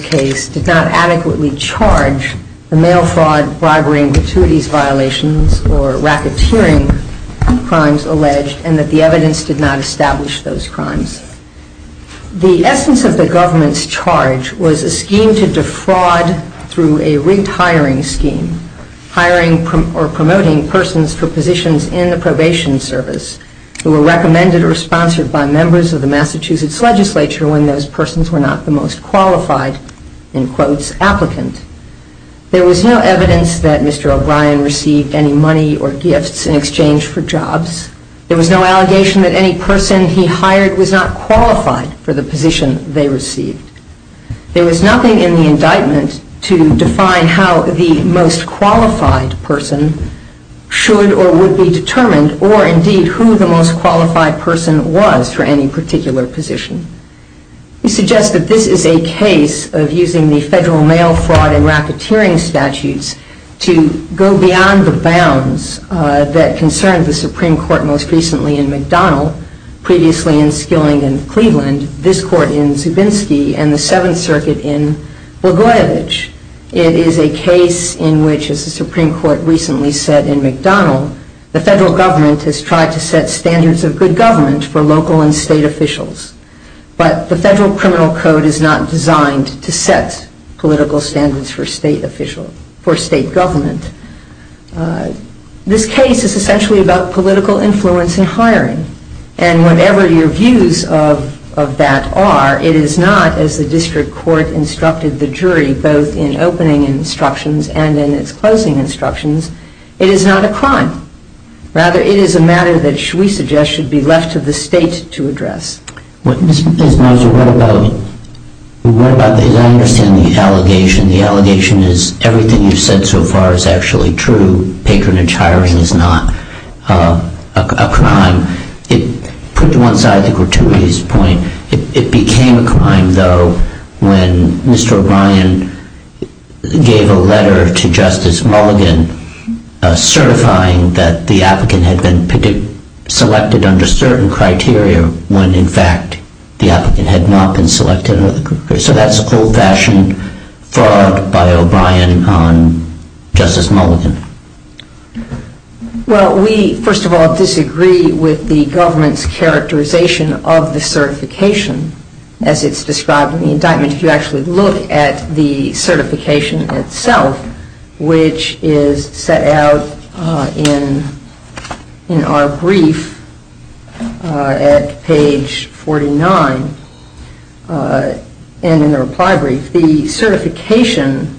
case did not adequately charge the mail fraud, bribery, and gratuities violations, or racketeering crimes alleged, and that the evidence did not establish those crimes. The essence of the government's charge was a scheme to defraud through a rigged hiring scheme, hiring or promoting persons for positions in the probation service who were recommended or sponsored by members of the Massachusetts legislature when those persons were not the most qualified, in quotes, applicant. There was no evidence that Mr. O'Brien received any money or gifts in exchange for jobs. There was no allegation that any person he hired was not qualified for the position they received. There was nothing in the indictment to define how the most qualified person should or would be determined, or indeed who the most qualified person was for any particular position. We suggest that this is a case of using the federal mail fraud and racketeering statutes to go beyond the bounds that concerned the Supreme Court most recently in McDonnell, previously in Skilling in Cleveland, this court in Zubinski, and the Seventh Circuit in Bogorodich. It is a case in which, as the Supreme Court recently said in McDonnell, the federal government has tried to set standards of good government for local and state officials. But the Federal Criminal Code is not designed to set political standards for state government. This case is essentially about political influence in hiring. And whatever your views of that are, it is not, as the district court instructed the jury both in opening instructions and in its closing instructions, it is not a crime. Rather, it is a matter that we suggest should be left to the state to address. Mr. Pesnozzi, what about the language in the allegation? The allegation is everything you've said so far is actually true. Patronage hiring is not a crime. To put you on the side of the gratuitous point, it became a crime though when Mr. O'Brien gave a letter to Justice Mulligan certifying that the applicant had been selected under certain criteria when, in fact, the applicant had not been selected. So that's full bashing by O'Brien on Justice Mulligan. Well, we, first of all, disagree with the government's characterization of the certification as it's described in the indictment. If you actually look at the certification itself, which is set out in our brief at page 49, and in the reply brief, the certification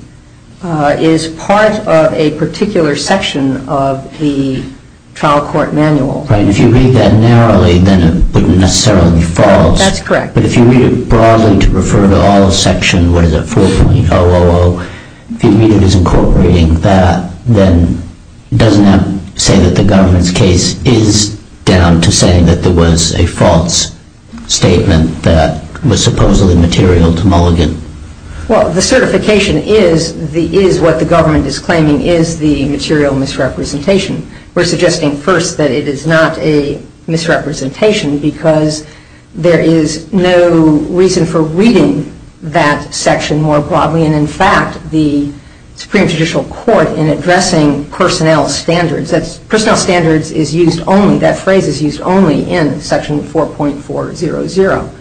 is part of a particular section of the trial court manual. Right. If you read that narrowly, then it would necessarily be false. That's correct. But if you read it broadly to refer to all section, what does it fall from the OOO? If you read it as a court reading, then doesn't that say that the government's case is down to saying that there was a false statement that was supposedly material to Mulligan? Well, the certification is what the government is claiming is the material misrepresentation. We're suggesting first that it is not a misrepresentation because there is no reason for reading that section more broadly. And, in fact, the Supreme Judicial Court, in addressing personnel standards, that's personnel standards is used only, that phrase is used only in section 4.400.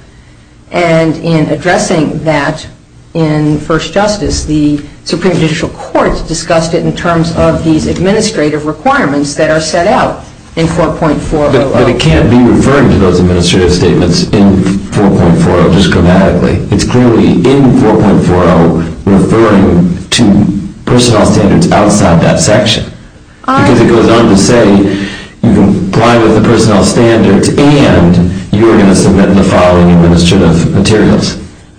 And in addressing that in first justice, the Supreme Judicial Court discussed it in terms of the administrative requirements that are set out in 4.400. But it can't be referred to those administrative statements in 4.400 grammatically. It's clearly in 4.400 referring to personnel standards outside that section. Because it goes on to say private personnel standards and you're going to submit the following administrative materials.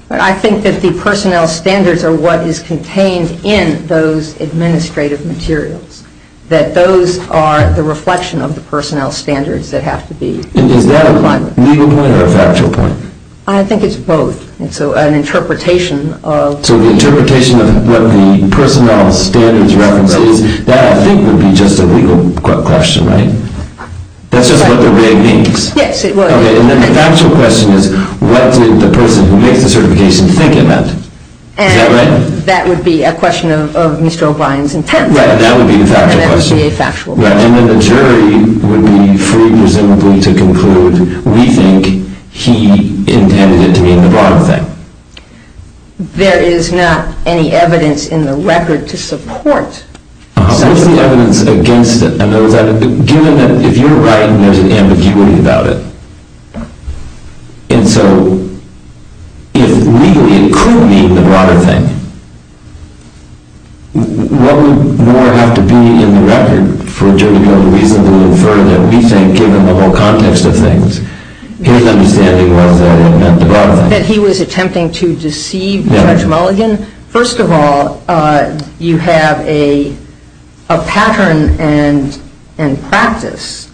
I think that the personnel standards are what is contained in those administrative materials. That those are the reflection of the personnel standards that have to be defined. Is that a legal point or a factual point? I think it's both. It's an interpretation of... So the interpretation of what the personnel standards represent, that I think would be just a legal question, right? That's just what it may be. Yes, it was. And then the actual question is, what did the person who gave the certification think about? And that would be a question of Mr. O'Brien's intent. That would be factual. That would be a factual question. And then the jury would be free and resilient to conclude, we think he intended it to be the wrong thing. There is not any evidence in the record to support... No, there's no evidence against it. Given that if you're right, there's an ambiguity about it. And so it legally could be the wrong thing. What would more have to be in the record for a jury to have a reason to infer that we think, given the whole context of things, he intended it to be the wrong thing? That he was attempting to deceive Judge Mulligan? First of all, you have a pattern and practice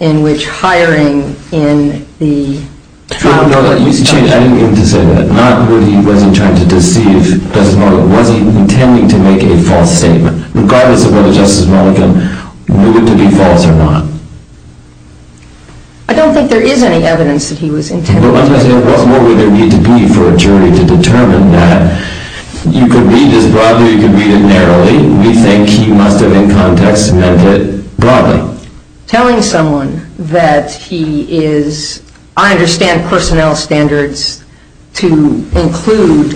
in which hiring in the... Judge, I didn't mean to say that. Not whether he was attempting to deceive Judge Mulligan. Was he intending to make a false statement? Regardless of whether Justice Mulligan believed it to be false or not. I don't think there is any evidence that he was intending... What more would there need to be for a jury to determine that? You can read this broadly, you can read it narrowly. We think he must have, in context, meant it broadly. Telling someone that he is... I understand personnel standards to include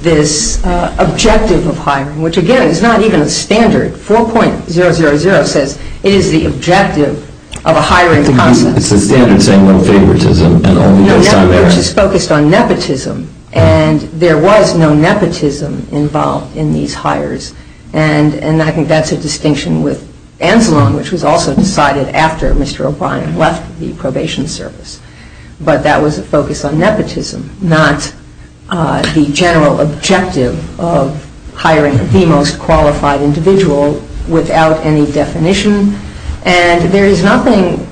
this objective of hiring, which, again, is not even a standard. 4.000 says it is the objective of a hiring... No, yes, but it was just focused on nepotism. And there was no nepotism involved in these hires. And I think that's a distinction with Anzalone, which was also decided after Mr. O'Brien left the probation service. But that was a focus on nepotism, not the general objective of hiring the most qualified individual without any definition. And there is nothing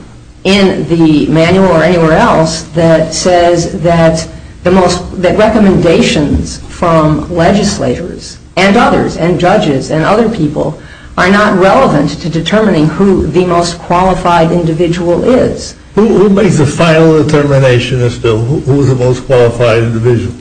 in the manual or anywhere else that says that recommendations from legislators and others, and judges and other people, are not relevant to determining who the most qualified individual is. Who makes the final determination as to who is the most qualified individual?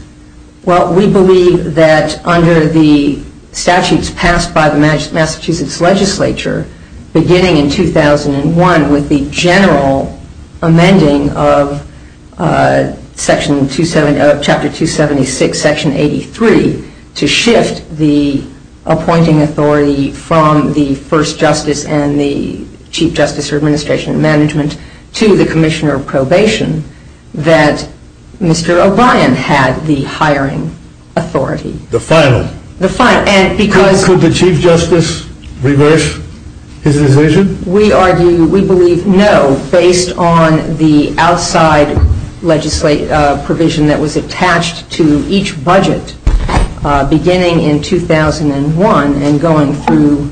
Well, we believe that under the statutes passed by the Massachusetts legislature, beginning in 2001, with the general amending of chapter 276, section 83, to shift the appointing authority from the first justice and the chief justice for administration and management to the commissioner of probation, that Mr. O'Brien had the hiring authority. The final? The final. Could the chief justice reverse his decision? We believe no, based on the outside provision that was attached to each budget, beginning in 2001 and going through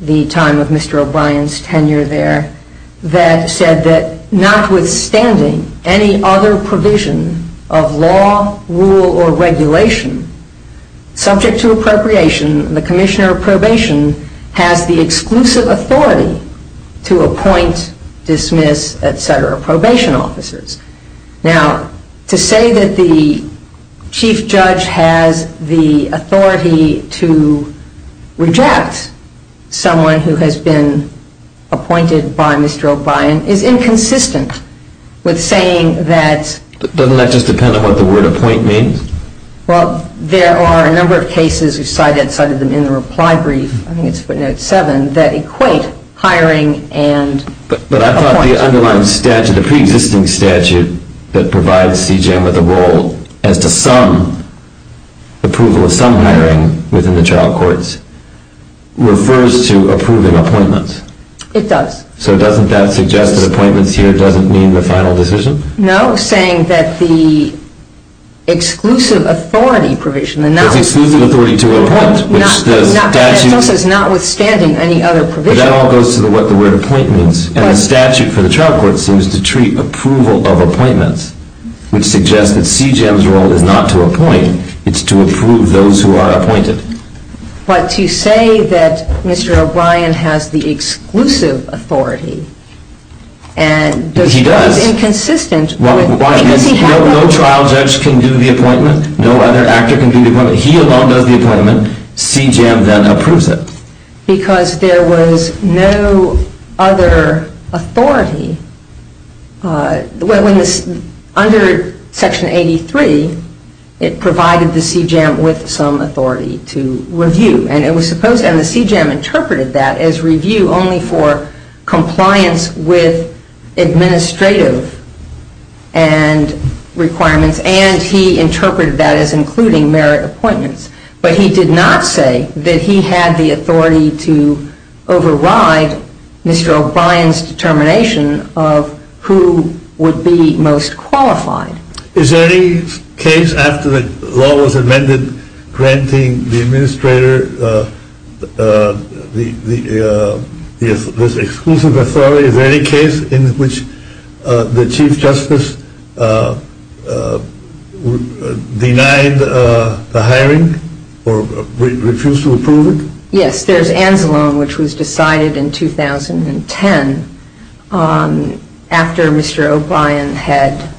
the time of Mr. O'Brien's tenure there, that said that notwithstanding any other provision of law, rule, or regulation, subject to appropriation, the commissioner of probation has the exclusive authority to appoint, dismiss, et cetera, probation officers. Now, to say that the chief judge has the authority to reject someone who has been appointed by Mr. O'Brien is inconsistent with saying that Doesn't that just depend on what the word appoint means? Well, there are a number of cases, we cited them in the reply brief, I think it's seven, that equate hiring and... But I thought the underlying statute, the pre-existing statute, that provides CJ with a role as to some approval of some hiring within the trial courts refers to approving appointments. It does. So doesn't that suggest that appointments here doesn't mean the final decision? No, saying that the exclusive authority provision... The exclusive authority to appoint, which the statute... Notwithstanding any other provision... But that all goes to what the word appoint means, and the statute for the trial court seems to treat approval of appointment, which suggests that CJ's role is not to appoint, it's to approve those who are appointed. But to say that Mr. O'Brien has the exclusive authority, and there's no inconsistency... He does. No trial judge can do the appointment, no other actor can do the appointment, he alone does the appointment, CJAM then approves it. Because there was no other authority... Under Section 83, it provided the CJAM with some authority to review, and the CJAM interpreted that as review only for compliance with administrative requirements, and he interpreted that as including merit appointments. But he did not say that he had the authority to override Mr. O'Brien's determination of who would be most qualified. Is there any case after the law was amended granting the administrator this exclusive authority? Is there any case in which the Chief Justice denied the hiring, or refused to approve it? Yes, there's Angelone, which was decided in 2010, after Mr. O'Brien had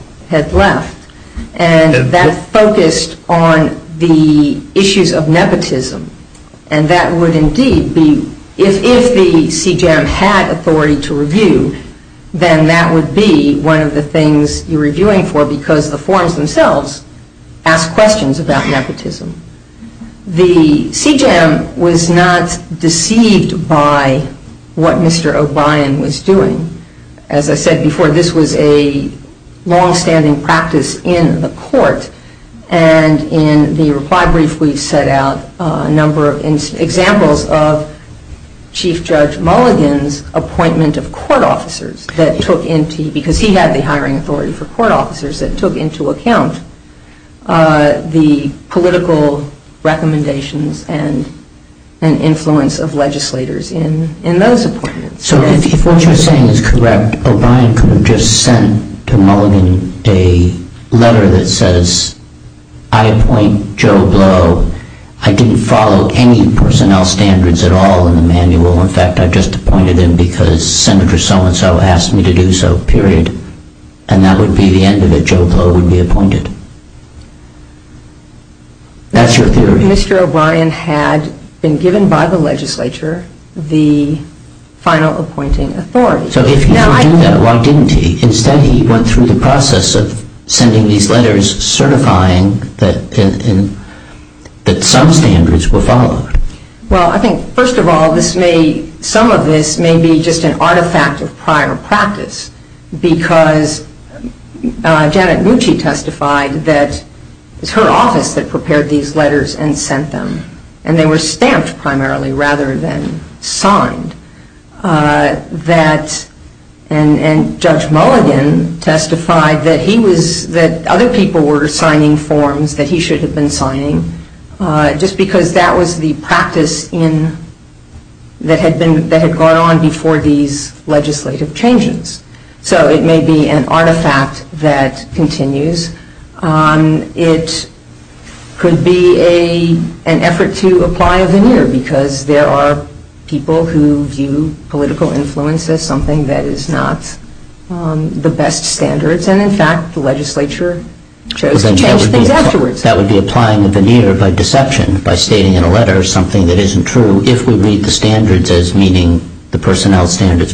left. And that focused on the issues of nepotism, and that would indeed be... If the CJAM had authority to review, then that would be one of the things you're reviewing for, because the forms themselves ask questions about nepotism. The CJAM was not deceived by what Mr. O'Brien was doing. As I said before, this was a long-standing practice in the court, and in the reply brief we set out a number of examples of Chief Judge Mulligan's appointment of court officers, because he had the hiring authority for court officers, that took into account the political recommendations and influence of legislators in those appointments. So if what you're saying is correct, O'Brien could have just sent to Mulligan a letter that says, I appoint Joe Blow. I didn't follow any personnel standards at all in the manual. In fact, I just appointed him because Senator so-and-so asked me to do so, period. And that would be the end of it. Joe Blow would be appointed. That's your theory. Mr. O'Brien had been given by the legislature the final appointing authority. So if he didn't know, why didn't he? Instead he went through the process of sending these letters certifying that some standards were followed. Well, I think, first of all, this may... some of this may be just an artifact of prior practice, because Janet Mucci testified that it's her office that prepared these letters and sent them. And they were stamped, primarily, rather than signed. That... and Judge Mulligan testified that he was... that other people were signing forms that he should have been signing, just because that was the practice in... that had been... that had gone on before these legislative changes. So it may be an artifact that continues. It could be a... an effort to apply a veneer, because there are people who view political influence as something that is not the best standards. And, in fact, the legislature chose to change things afterwards. That would be applying the veneer by deception, by stating in a letter something that isn't true, if we read the standards as meeting the personnel standards.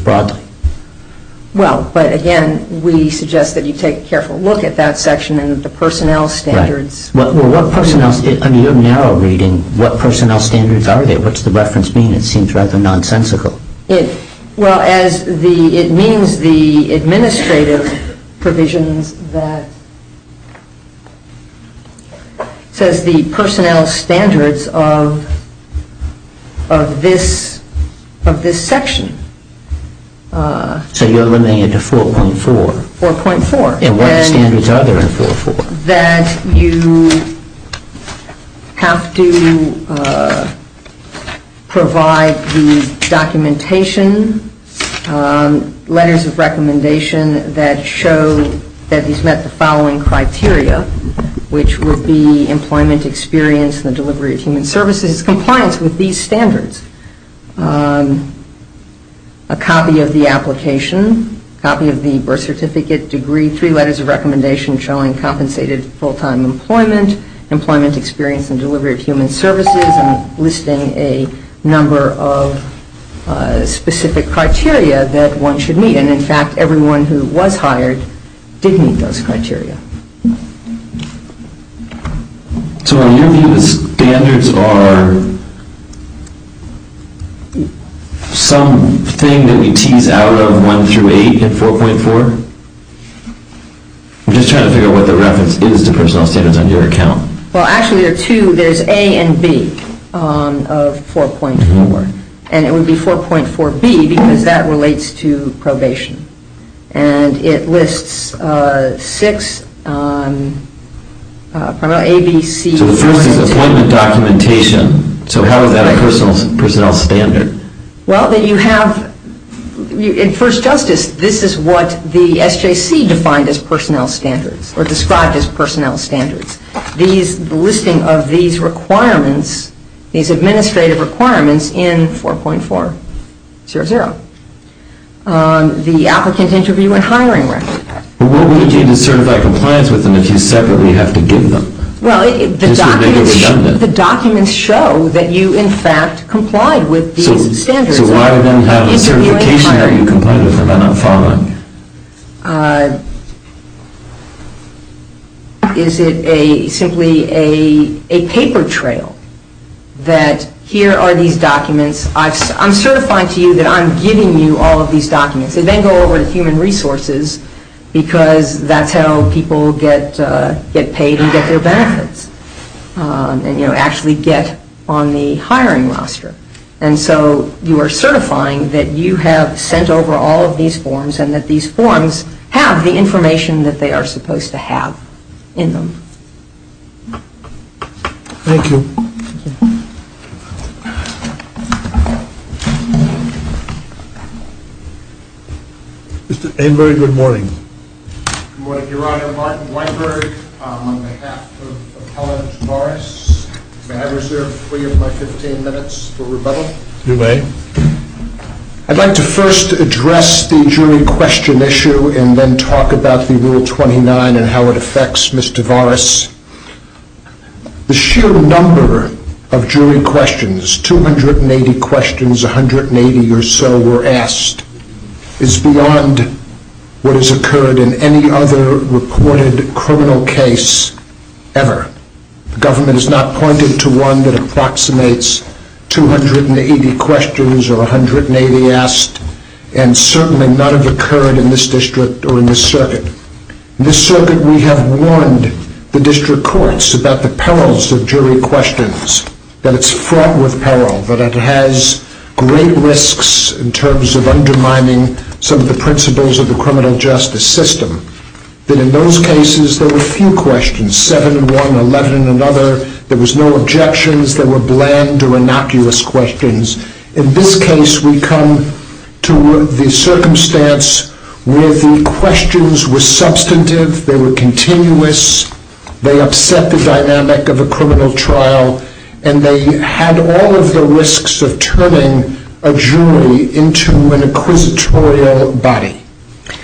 Well, but again, we suggest that you take a careful look at that section and the personnel standards. Right. Well, what personnel... I mean, you're narrow reading. What personnel standards are they? What's the reference mean? It seems rather nonsensical. It's... well, as the... it means the administrative provisions that... of this... of this section. So you're limiting it to 4.4? 4.4. And what are the standards other than 4.4? That you have to provide the documentation, letters of recommendation that show that these met the following criteria, which would be employment experience and delivery of human services, compliance with these standards, a copy of the application, a copy of the birth certificate degree, three letters of recommendation showing compensated full-time employment, employment experience and delivery of human services, and listing a number of specific criteria that one should meet. And, in fact, everyone who was hired did meet those criteria. So are you saying the standards are... some thing that we tease out of 108 and 4.4? I'm just trying to figure out what the reference is to personnel standards on your account. Well, actually there are two. There's A and B of 4.4. And it would be 4.4B because that relates to probation. And it lists six... So if you're listing employment documentation, so how is that a personnel standard? Well, you have... In first justice, this is what the SJC defined as personnel standards or described as personnel standards. The listing of these requirements, these administrative requirements, in 4.4. The applicant's interview and hiring rights. Well, the documents show that you, in fact, complied with these standards. Is it simply a paper trail that here are these documents? I'm certifying to you that I'm giving you all of these documents. You then go over to human resources because that's how people get paid and get their benefits and actually get on the hiring roster. And so you are certifying that you have sent over all of these forms and that these forms have the information that they are supposed to have in them. Thank you. Mr. Aymberg, good morning. Good morning, Your Honor. Martin Aymberg, on behalf of Appellant Tavaris, may I reserve 3.15 minutes for rebuttal? You may. I'd like to first address the jury question issue and then talk about the Rule 29 and how it affects Mr. Tavaris. The sheer number of jury questions, 280 questions, 180 or so were asked, is beyond what has occurred in any other reported criminal case ever. The government has not pointed to one that approximates 280 questions or 180 asked and certainly none have occurred in this district or in this circuit. In this circuit, we have warned the district courts about the perils of jury questions, that it's fraught with peril, that it has great risks in terms of undermining some of the principles of the criminal justice system. But in those cases, there were few questions, 7, 1, 11, and other. There were no objections. There were bland or innocuous questions. In this case, we come to the circumstance where the questions were substantive. They were continuous. They upset the dynamic of the criminal trial and they had all of the risks of turning a jury into an inquisitorial body.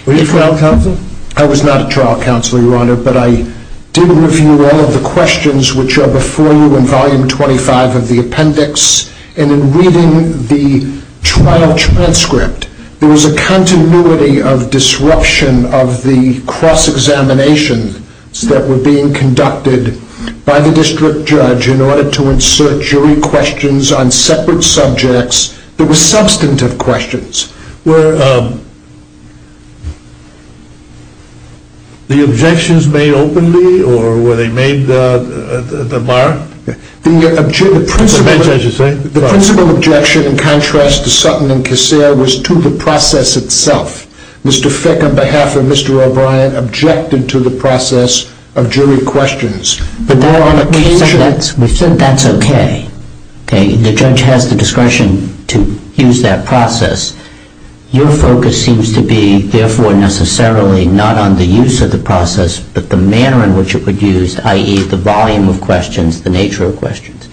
Were you a trial counsel? I was not a trial counsel, Your Honor, but I did review all of the questions which are before you in Volume 25 of the appendix and in reading the trial transcript, there was a continuity of disruption of the cross-examinations that were being conducted by the district judge in order to insert jury questions on separate subjects that were substantive questions. Were the objections made openly or were they made the mark? The principal objection, in contrast to Sutton and Cassell, was to the process itself. Mr. Fick, on behalf of Mr. O'Brien, objected to the process of jury questions. Mr. Fick, that's okay. The judge has the discretion to use that process. Your focus seems to be, therefore, necessarily not on the use of the process but the manner in which it would use, i.e., the volume of questions, the nature of questions.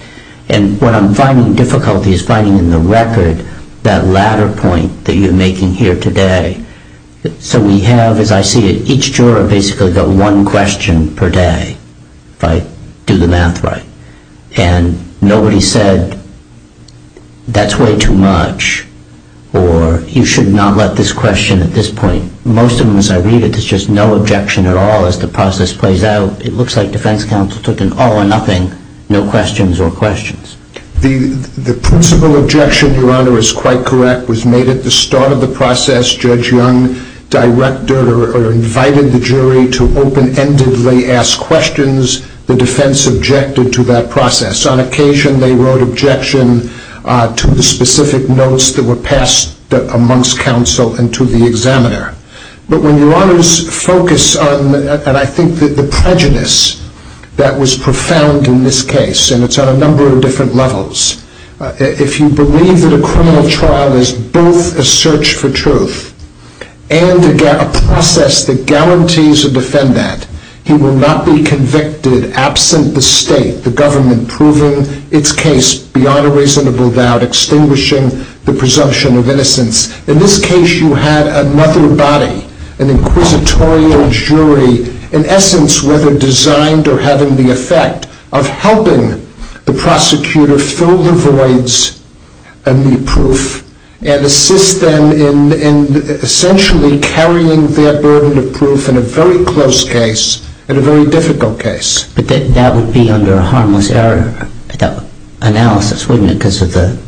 And what I'm finding difficult is finding in the record that latter point that you're making here today. So we have, as I see it, each juror basically got one question per day, if I do the math right, and nobody said, that's way too much or you should not let this question at this point. Most of them, as I read it, there's just no objection at all as the process plays out. It looks like defense counsel took an all or nothing, no questions or questions. The principal objection, Your Honor, is quite correct. It was made at the start of the process. Judge Young directed or invited the jury to open-endedly ask questions. The defense objected to that process. On occasion they wrote objection to the specific notes that were passed amongst counsel and to the examiner. But when Your Honor's focus on, and I think that the prejudice that was profound in this case, and it's on a number of different levels, if you believe that a criminal trial is both a search for truth and a process that guarantees a defendant, he will not be convicted absent the state, the government proving its case beyond a reasonable doubt, extinguishing the presumption of innocence. In this case you have another body, an inquisitorial jury, in essence whether designed or having the effect of helping the prosecutor fill the voids and the proof and assist them in essentially carrying their burden of proof in a very close case and a very difficult case. But that would be under a harmless error analysis, wouldn't it, because of the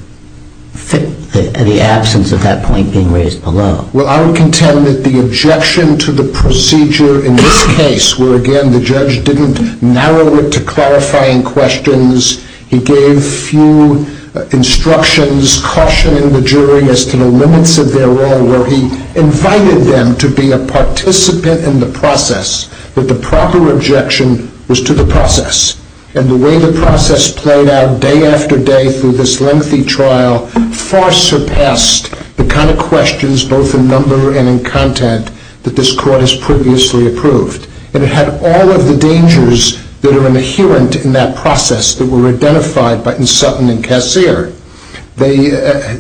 absence of that point being raised below. Well, I would contend that the objection to the procedure in this case, where again the judge didn't narrow it to qualifying questions, he gave few instructions, cautioning the jury as to the limits of their role, where he invited them to be a participant in the process, but the proper objection was to the process. And the way the process played out day after day through this lengthy trial far surpassed the kind of questions, both in number and in content, that this court has previously approved. And it had all of the dangers that are inherent in that process that were identified by Sutton and Kassir. They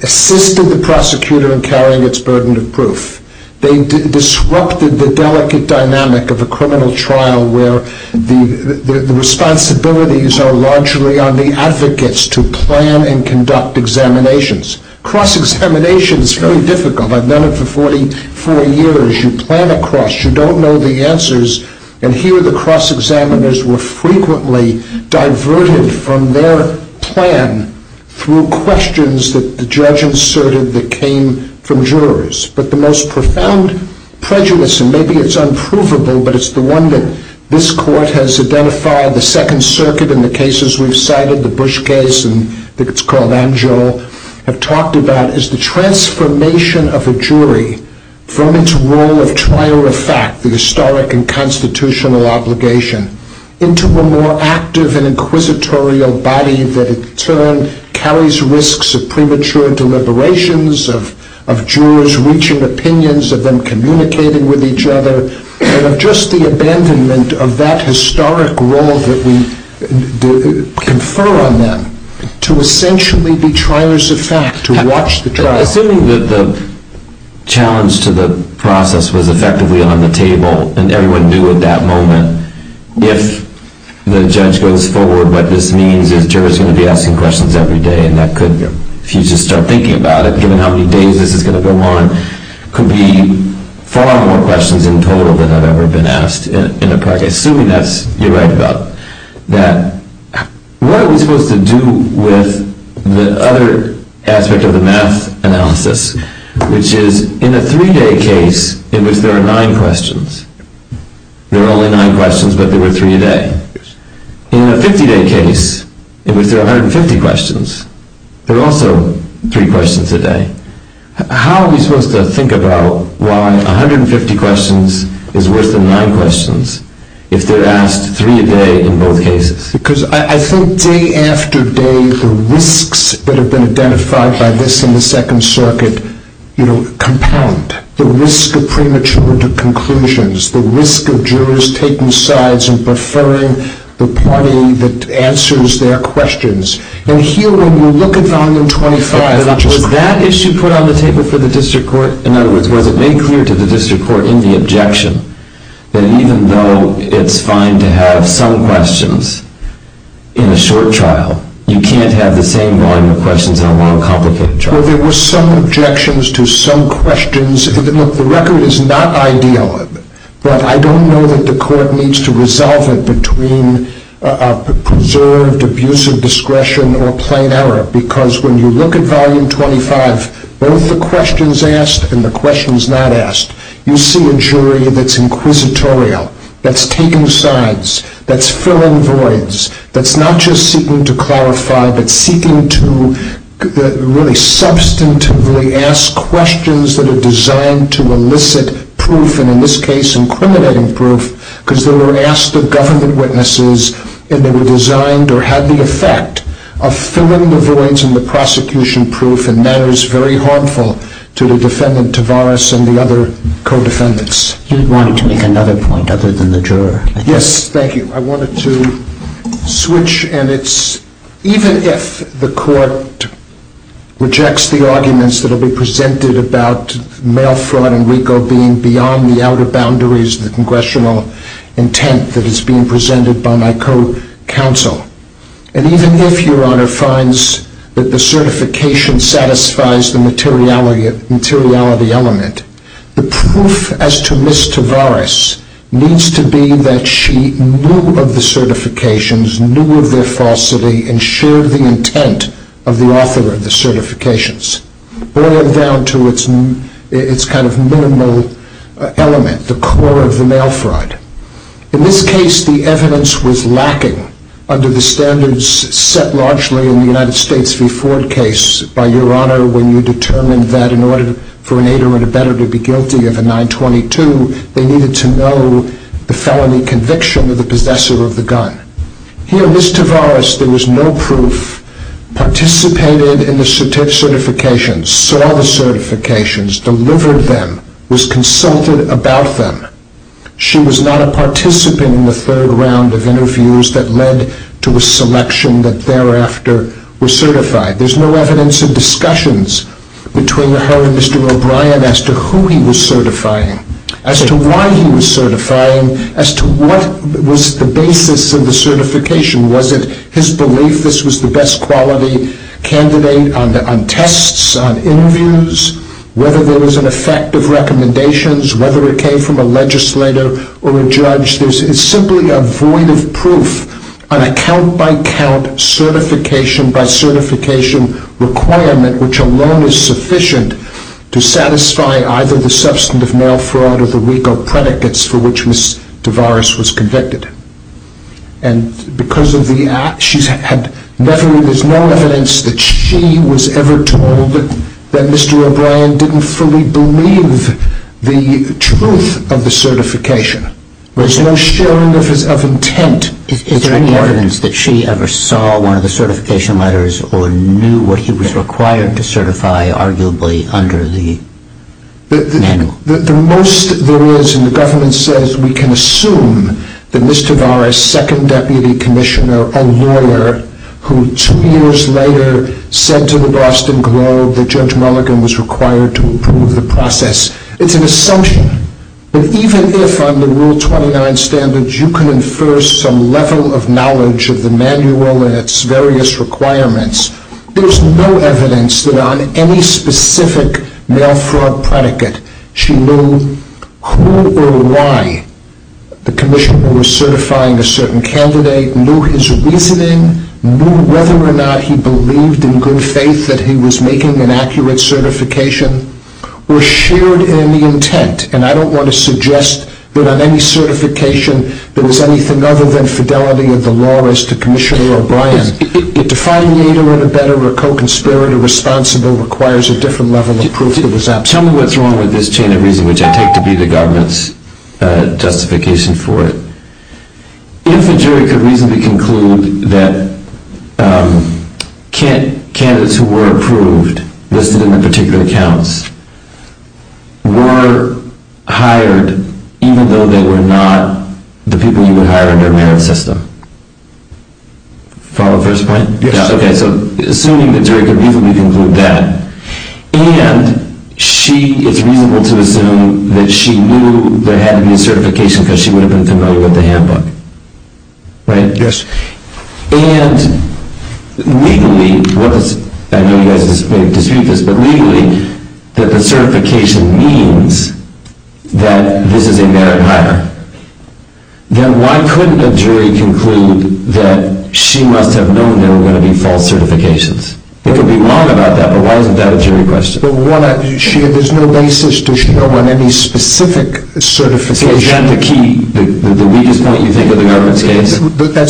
assisted the prosecutor in carrying its burden of proof. They disrupted the delicate dynamic of a criminal trial where the responsibilities are largely on the advocates to plan and conduct examinations. Cross-examination is very difficult. I've done it for 44 years. You plan across. You don't know the answers. And here the cross-examiners were frequently diverted from their plan through questions that the judge inserted that came from jurors. But the most profound prejudice, and maybe it's unprovable, but it's the one that this court has identified, the Second Circuit in the cases we've cited, the Bush case, and I think it's called Amjo, have talked about is the transformation of a jury from its role at trial of fact, the historic and constitutional obligation, into a more active and inquisitorial body that, in turn, carries risks of premature deliberations, of jurors reaching opinions, of them communicating with each other, and of just the abandonment of that historic role that we confer on them to essentially be triers of fact, to watch the trial. I think that the challenge to the process was effectively on the table, and everyone knew at that moment, if the judge goes forward, what this means is jurors are going to be asking questions every day, and that could, if you just start thinking about it, given how many days this is going to go on, could be far more questions in total than had ever been asked in a practice. Assuming that's developed up, that what are we supposed to do with the other aspect of the math analysis, which is, in a three-day case in which there are nine questions, there are only nine questions, but there are three a day. In a 50-day case in which there are 150 questions, there are also three questions a day. How are we supposed to think about why 150 questions is worse than nine questions if they're asked three a day in both cases? Because I think day after day, the risks that have been identified by this in the Second Circuit compound. The risk of premature conclusions, the risk of jurors taking sides and preferring the party that answers their questions. And here, when you look at Volume 25, that issue put on the table for the district court, in other words, whether they created the district court in the objection, that even though it's fine to have some questions in a short trial, you can't have the same line of questions in a long, complicated trial. Well, there were some objections to some questions. The record is not ideal, but I don't know that the court needs to resolve it between a preserved abuse of discretion or a plain error, because when you look at Volume 25, both the questions asked and the questions not asked, you see a jury that's inquisitorial, that's taking sides, that's filling voids, that's not just seeking to qualify, but seeking to really substantively ask questions that are designed to elicit proof, and in this case, incriminating proof, because they were asked of government witnesses and they were designed or had the effect of filling the voids and the prosecution proof in manners very harmful to the defendant, to Boris and the other co-defendants. You wanted to make another point other than the juror. Yes, thank you. I wanted to switch, and it's, even if the court rejects the arguments that have been presented about mail fraud and RICO being beyond the outer boundaries of the congressional intent that is being presented by my co-counsel, and even if Your Honor finds that the certification satisfies the materiality element, the proof as to Ms. Tavares needs to be that she knew of the certifications, knew of their falsity, and shared the intent of the author of the certifications, boiling down to its kind of minimal element, the core of the mail fraud. In this case, the evidence was lacking under the standards set largely in the United States before the case, by Your Honor, when you determined that in order for an 8-year-old to better be guilty of a 922, they needed to know the felony conviction of the possessor of the gun. Here, Ms. Tavares, there was no proof, participated in the certifications, saw the certifications, delivered them, was consulted about them. She was not a participant in the third round of interviews that led to a selection that thereafter was certified. There's no evidence in discussions between her and Mr. O'Brien as to who he was certifying, as to why he was certifying, as to what was the basis of the certification. Was it his belief this was the best quality candidate on tests, on interviews, whether there was an effect of recommendations, whether it came from a legislator or a judge? There's simply a void of proof on a count-by-count, certification-by-certification requirement, which alone is sufficient to satisfy either the substantive mail fraud or the legal predicates for which Ms. Tavares was convicted. And because of the act, there was no evidence that she was ever told that Mr. O'Brien didn't fully believe the truth of the certification. There's no showing of intent. Is there any evidence that she ever saw one of the certification letters or knew what he was required to certify, arguably, under the manual? The most there is, and the government says we can assume, that Ms. Tavares' second deputy commissioner, a lawyer, who two years later said to the Boston Globe that Judge Mulligan was required to approve the process, it's an assumption that even if, under Rule 29 standards, you can infer some level of knowledge of the manual and its various requirements, there's no evidence that on any specific mail fraud predicate she knew who or why the commissioner was certifying a certain candidate, knew his reasoning, knew whether or not he believed in good faith that he was making an accurate certification, or shared in the intent. And I don't want to suggest that on any certification there was anything other than fidelity of the law as to Commissioner O'Brien. It defined neither of the better or co-conspirator responsible requires a different level of proof. Tell me what's wrong with this chain of reasoning, which I take to be the government's justification for it. Isn't there a reason to conclude that candidates who were approved listed in the particular accounts were hired even though they were not the people who were hired in their merit system? Follow up question, right? Yes. Okay, so assuming that Judge O'Brien didn't conclude that, and she is reasonable to assume that she knew they had a new certification because she went in to know what they had done. Right? Yes. And, legally, what is, I know you guys disagree with this, but legally, that the certification means that this is a merit matter. Then why couldn't the jury conclude that she must have known there were going to be false certifications? There could be a mark about that, but why isn't that a jury question? Well, one, there's no basis to show on any specific certification. That's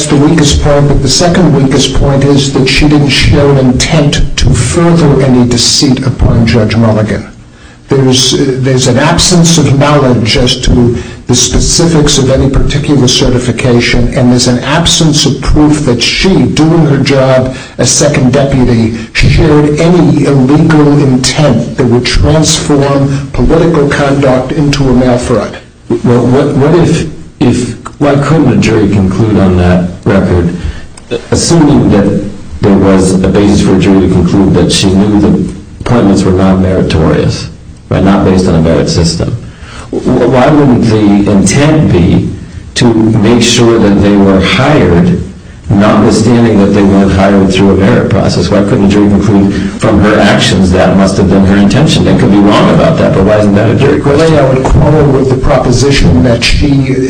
the weakest point. The second weakest point is that she didn't show intent to further any deceit upon Judge Mulligan. There's an absence of knowledge as to the specifics of any particular certification, and there's an absence of proof that she, doing her job as second deputy, she showed any illegal intent that would transform political conduct into a mass threat. Well, what if, why couldn't a jury conclude on that record, assuming that there was a base for a jury to conclude that she knew the appointments were not meritorious, but not based on a merit system, why wouldn't the intent be to make sure that they were hired, notwithstanding that they weren't hired through a merit process, why couldn't a jury conclude from her actions that it must have been her intention? There could be a mark about that, but why isn't that a jury question? Well, then I would corner her with the proposition that she knew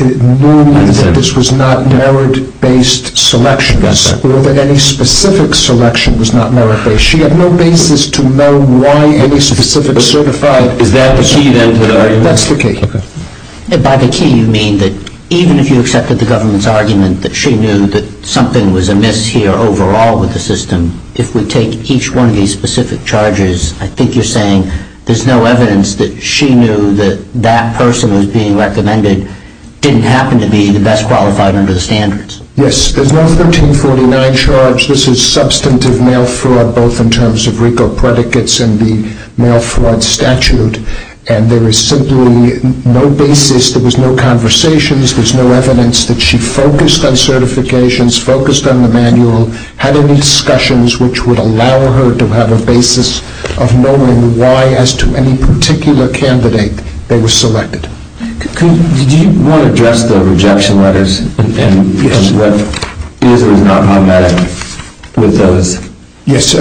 that this was not merit-based selection, or that any specific selection was not merit-based. She had no basis to know why any specific certified is advocated. That's the case. By the key, you mean that even if you accepted the government's argument that she knew that something was amiss here overall with the system, if we take each one of these specific charges, I think you're saying there's no evidence that she knew that that person was being recommended didn't happen to be the best qualified under the standards. Yes, there's no 1349 charge. This is substantive male fraud, both in terms of RICO predicates and the male fraud statute, and there is simply no basis. There was no conversations. There's no evidence that she focused on certifications, focused on the manual, had any discussions which would allow her to have a basis of knowing why, as to any particular candidate that was selected. Could you readjust the rejection letters and what is or is not problematic with those? Yes.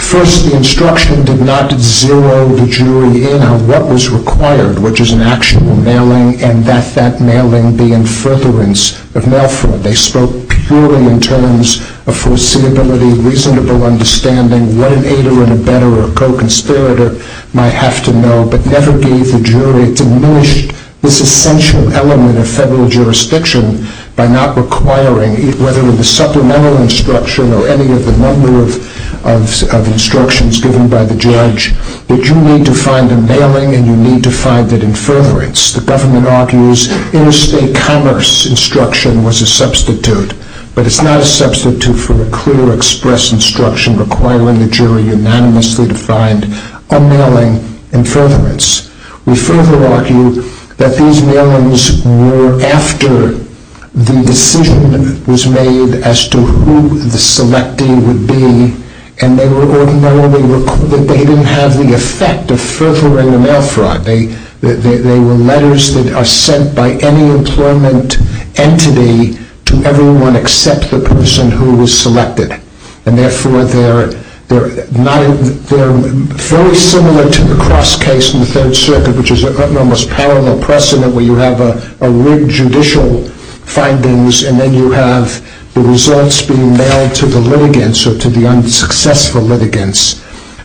First, the instruction did not zero the jury in on what was required, which is an actual mailing and that that mailing be in furtherance of male fraud. They spoke purely in terms of foreseeability, reasonable understanding, what an aider and a betterer, a co-conspirator might have to know, but never gave the jury diminished, this essential element of federal jurisdiction by not requiring, whether it was supplemental instruction or any other number of instructions given by the judge, that you need to find a mailing and you need to find it in furtherance. The government argues interstate commerce instruction was a substitute, but it's not a substitute for the clear express instruction requiring the jury unanimously to find a mailing in furtherance. We further argue that these mailings were after the decision was made as to who the selecting would be, and they were ordinarily recorded. They didn't have the effect of furthering the male fraud. They were letters that are sent by any employment entity to everyone except the person who was selected, and therefore they're very similar to the cross case in the Third Circuit, which is an almost parallel precedent where you have a rigged judicial findings and then you have the results being mailed to the litigants or to the unsuccessful litigants,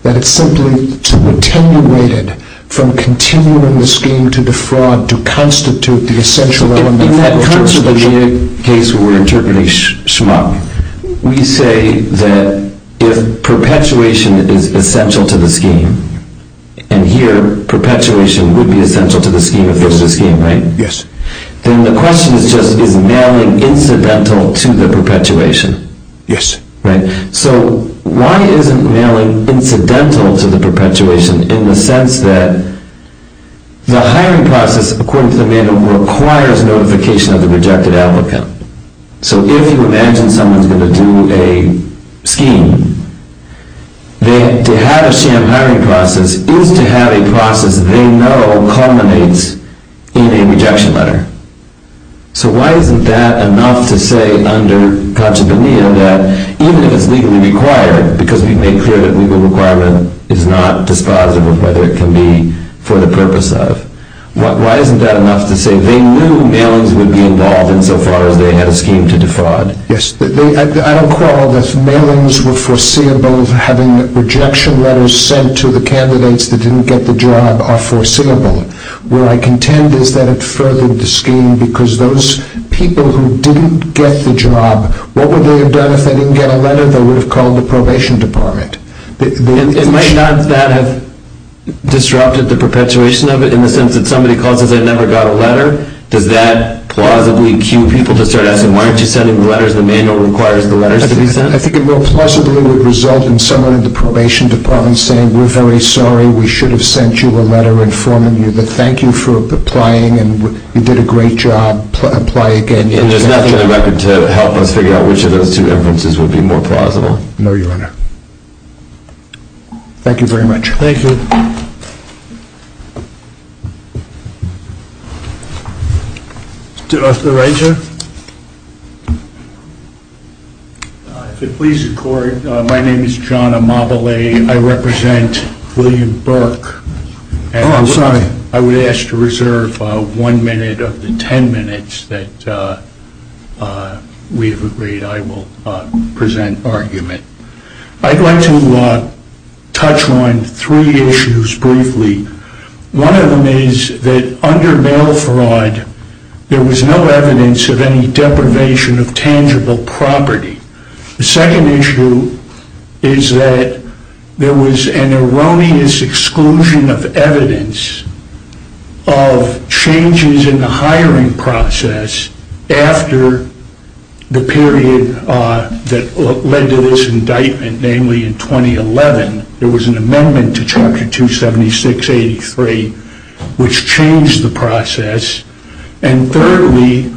and it's simply attenuated from continuing the scheme to defraud to constitute the essential element. In terms of the case where we're interpreting SHMO, we say that if perpetuation is essential to the scheme, and here perpetuation would be essential to the scheme if there's a scheme, right? Yes. And the question is just is mailing incidental to the perpetuation? Yes. Right. So why isn't mailing incidental to the perpetuation in the sense that the hiring process, according to the manual, requires notification of the rejected applicant? So if you imagine someone's going to do a scheme, then to have a sham hiring process is to have a process they know culminates in a rejection letter. So why isn't that enough to say under Pachacamino that even if legal requirement, because we've made clear that legal requirement is not dispositive of whether it can be for the purpose of, why isn't that enough to say they knew mailings would be involved in so far as they had a scheme to defraud? Yes. I don't call this mailings were foreseeable having rejection letters sent to the candidates that didn't get the job are foreseeable. What I contend is that it furthered the scheme because those people who didn't get the job, what would they have done if they didn't get a letter? They would have called the probation department. It might not have disrupted the perpetuation of it in the sense that somebody calls and says they never got a letter. Does that plausibly cue people to turn out to be, why aren't you sending the letters, the manual requires the letters to be sent? I think it will possibly result in someone in the probation department saying, we're very sorry, we should have sent you a letter informing you, but thank you for applying and you did a great job, apply again. There's nothing in the record to help us figure out which of those two instances would be more plausible. No, Your Honor. Thank you very much. Thank you. Mr. Regev? If it pleases the court, my name is John Amabile. I represent William Burke. Oh, I'm sorry. I would ask to reserve one minute of the ten minutes that we've agreed I will present argument. I'd like to touch on three issues briefly. One of them is that under bail fraud, there was no evidence of any deprivation of tangible property. The second issue is that there was an erroneous exclusion of evidence of changes in the hiring process after the period that led to this indictment, namely in 2011. There was an amendment to Chapter 276-83 which changed the process. And thirdly,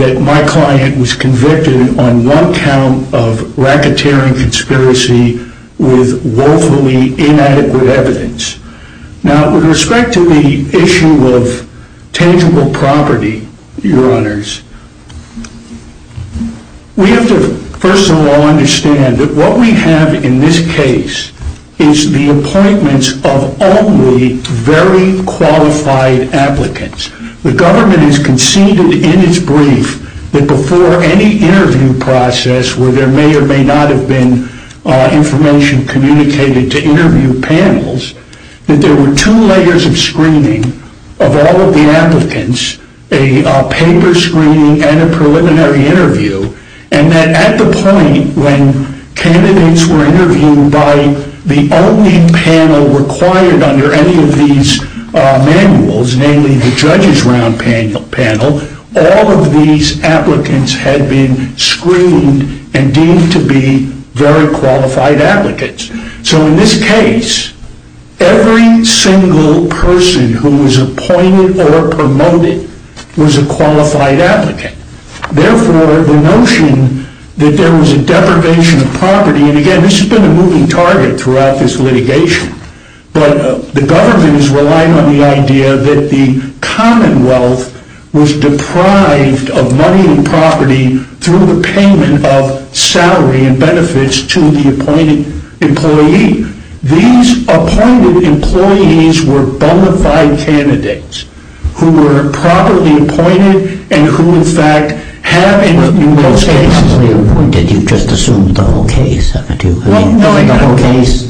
that my client was convicted on one count of racketeering conspiracy with woefully inadequate evidence. Now, with respect to the issue of tangible property, Your Honors, we have to first of all understand that what we have in this case is the appointments of only very qualified applicants. The government has conceded in its brief that before any interview process where there may or may not have been information communicated to interview panels, that there were two layers of screening of all of the applicants, a paper screening and a preliminary interview, and that at the point when candidates were interviewed by the only panel required under any of these manuals, namely the judges' round panel, all of these applicants had been screened and deemed to be very qualified applicants. So in this case, every single person who was appointed or promoted was a qualified applicant. Therefore, the notion that there was a deprivation of property, and again, this has been a moving target throughout this litigation, but the government is relying on the idea that the Commonwealth was deprived of money and property through the payment of salary and benefits to the appointed employee. These appointed employees were bona fide candidates who were properly appointed and who, in fact, had a... Well, in this case, when they were appointed, you just assumed the whole case, haven't you? Well, no, I don't.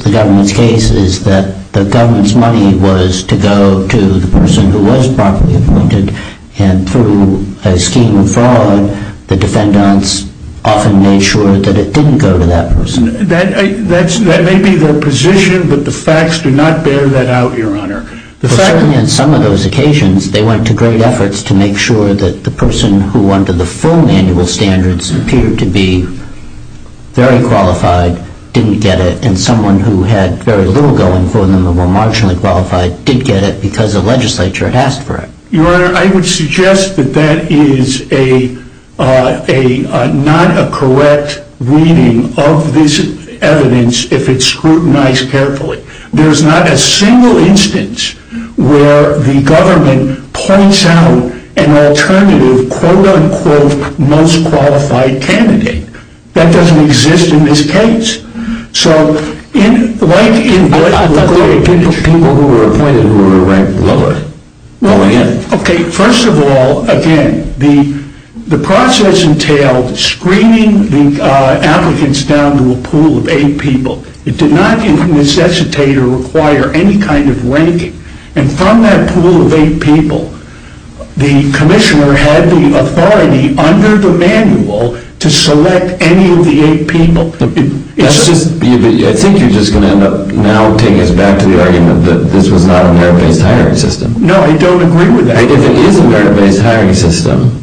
The government's case is that the government's money was to go to the person who was properly appointed, and through a scheme of fraud, the defendants often made sure that it didn't go to that person. That may be their position, but the facts do not bear that out, Your Honor. In some of those occasions, they went to great efforts to make sure that the person who under the full manual standards appeared to be very qualified didn't get it, and someone who had very little government employment or were marginally qualified did get it because the legislature asked for it. Your Honor, I would suggest that that is not a correct reading of this evidence if it's scrutinized carefully. There's not a single instance where the government points out an alternative quote-unquote most qualified candidate. That doesn't exist in this case. So, like in death, what would they do to people who were appointed? Well, first of all, again, the process entailed screening the applicants down to a pool of eight people. It did not necessitate or require any kind of ranking, and from that pool of eight people, the commissioner had the authority under the manual to select any of the eight people. I think you're just going to now take us back to the argument that this was not a merit-based hiring system. No, I don't agree with that. If it is a merit-based hiring system,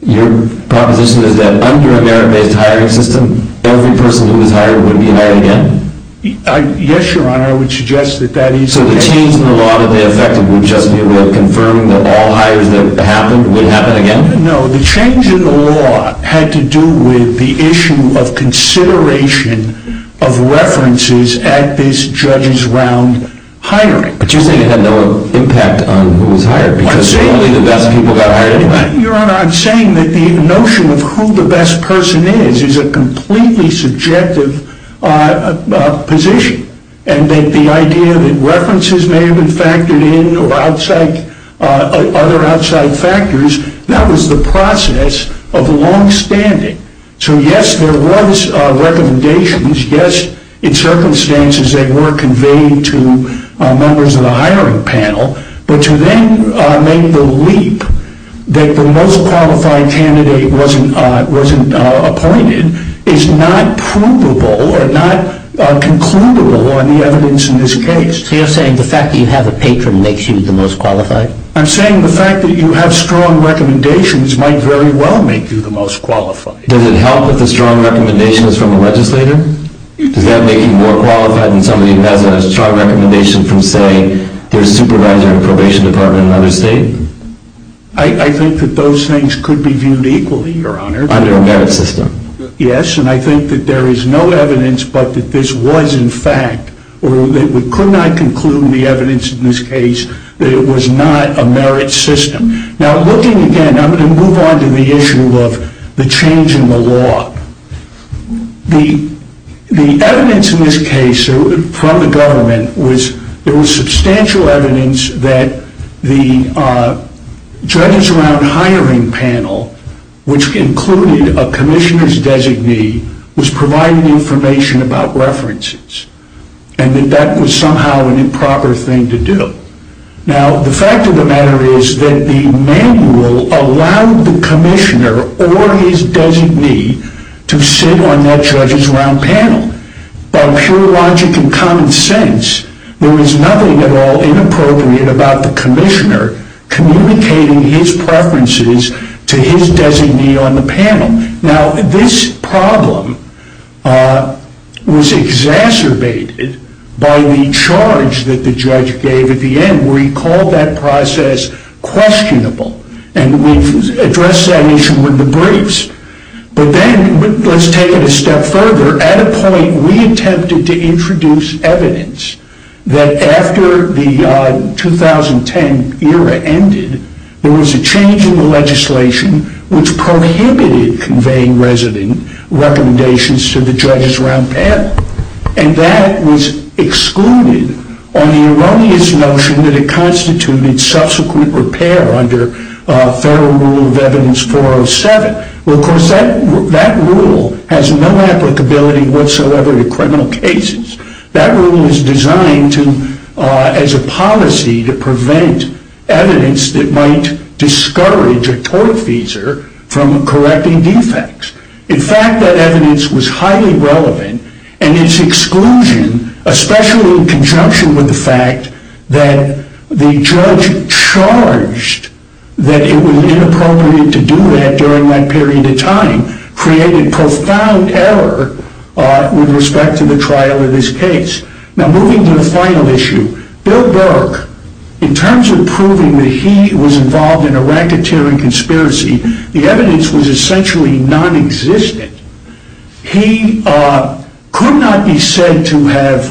your proposition is that under a merit-based hiring system, every person who was hired would be hired again? Yes, Your Honor, I would suggest that that is correct. So the change in the law in effect would just be to confirm that all hired would be hired again? No, the change in the law had to do with the issue of consideration of references at this judge's round hiring. Do you think it had no impact on who was hired? Your Honor, I'm saying that the notion of who the best person is is a completely subjective position, and that the idea that references may have been factored in or other outside factors, that was the process of longstanding. So yes, there was recommendations, yes, in circumstances that were conveyed to members of the hiring panel, but to then make the leap that the most qualified candidate wasn't appointed is not provable or not concludable on the evidence in this case. So you're saying the fact that you have a patron makes you the most qualified? I'm saying the fact that you have strong recommendations might very well make you the most qualified. Does it help that the strong recommendation is from a legislator? Does that make you more qualified than somebody who has a strong recommendation from, say, their supervisor in the probation department in another state? I think that those things could be viewed equally, Your Honor. Under a merit system? Yes, and I think that there is no evidence but that this was, in fact, or that we could not conclude in the evidence in this case that it was not a merit system. Now, looking again, I'm going to move on to the issue of the change in the law. The evidence in this case from the government was there was substantial evidence that the judges around hiring panel, which included a commissioner's designee, was providing information about references and that that was somehow an improper thing to do. Now, the fact of the matter is that the manual allowed the commissioner or his designee to sit on that judges around panel. By pure logic and common sense, there was nothing at all inappropriate about the commissioner communicating his preferences to his designee on the panel. Now, this problem was exacerbated by the charge that the judge gave at the end where he called that process questionable and addressed that issue in the briefs. But then, let's take it a step further. At a point, we attempted to introduce evidence that after the 2010 era ended, there was a change in the legislation which prohibited conveying resident recommendations to the judges around panel, and that was excluded on the erroneous notion that it constituted subsequent repair under Federal Rule of Evidence 407. Well, of course, that rule has no applicability whatsoever in criminal cases. That rule was designed as a policy to prevent evidence that might discourage a tort offender from correcting defects. In fact, that evidence was highly relevant, and its exclusion, especially in conjunction with the fact that the judge charged that it was inappropriate to do that during that period of time, created profound error with respect to the trial of this case. Now, moving to the final issue, Bill Burke, in terms of proving that he was involved in a racketeering conspiracy, the evidence was essentially non-existent. He could not be said to have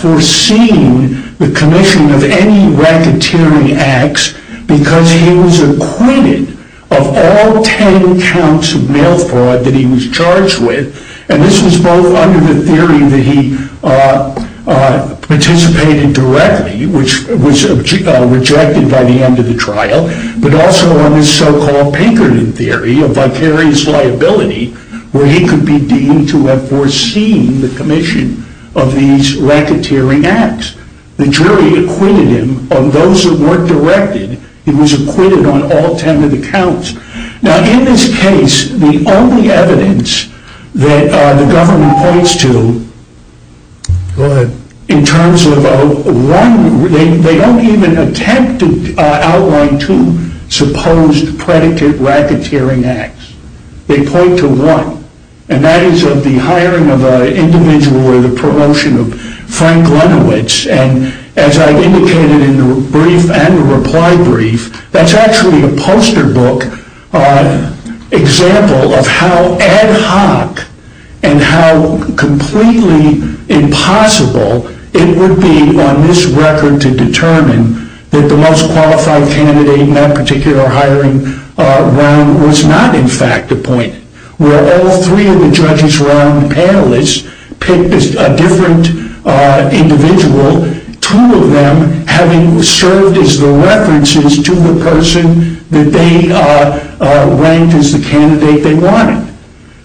foreseen the commission of any racketeering acts because he was acquitted of all 10 counts of mail fraud that he was charged with, and this was both under the theory that he participated directly, which was rejected by the end of the trial, but also under the so-called Pinkerton theory of vicarious liability, where he could be deemed to have foreseen the commission of these racketeering acts. The jury acquitted him of those that weren't directed. He was acquitted on all 10 of the counts. Now, in this case, the only evidence that the government points to in terms of one, they don't even attempt to outline two supposed predicate racketeering acts. They point to one, and that is of the hiring of an individual or the promotion of Frank Grunowitz, and as I indicated in the brief and the reply brief, that's actually a poster book example of how ad hoc and how completely impossible it would be on this record to determine that the most qualified candidate in that particular hiring round was not, in fact, the point, where all three of the judges around the panelists picked a different individual, two of them having served as the references to the person that they ranked as the candidate they wanted.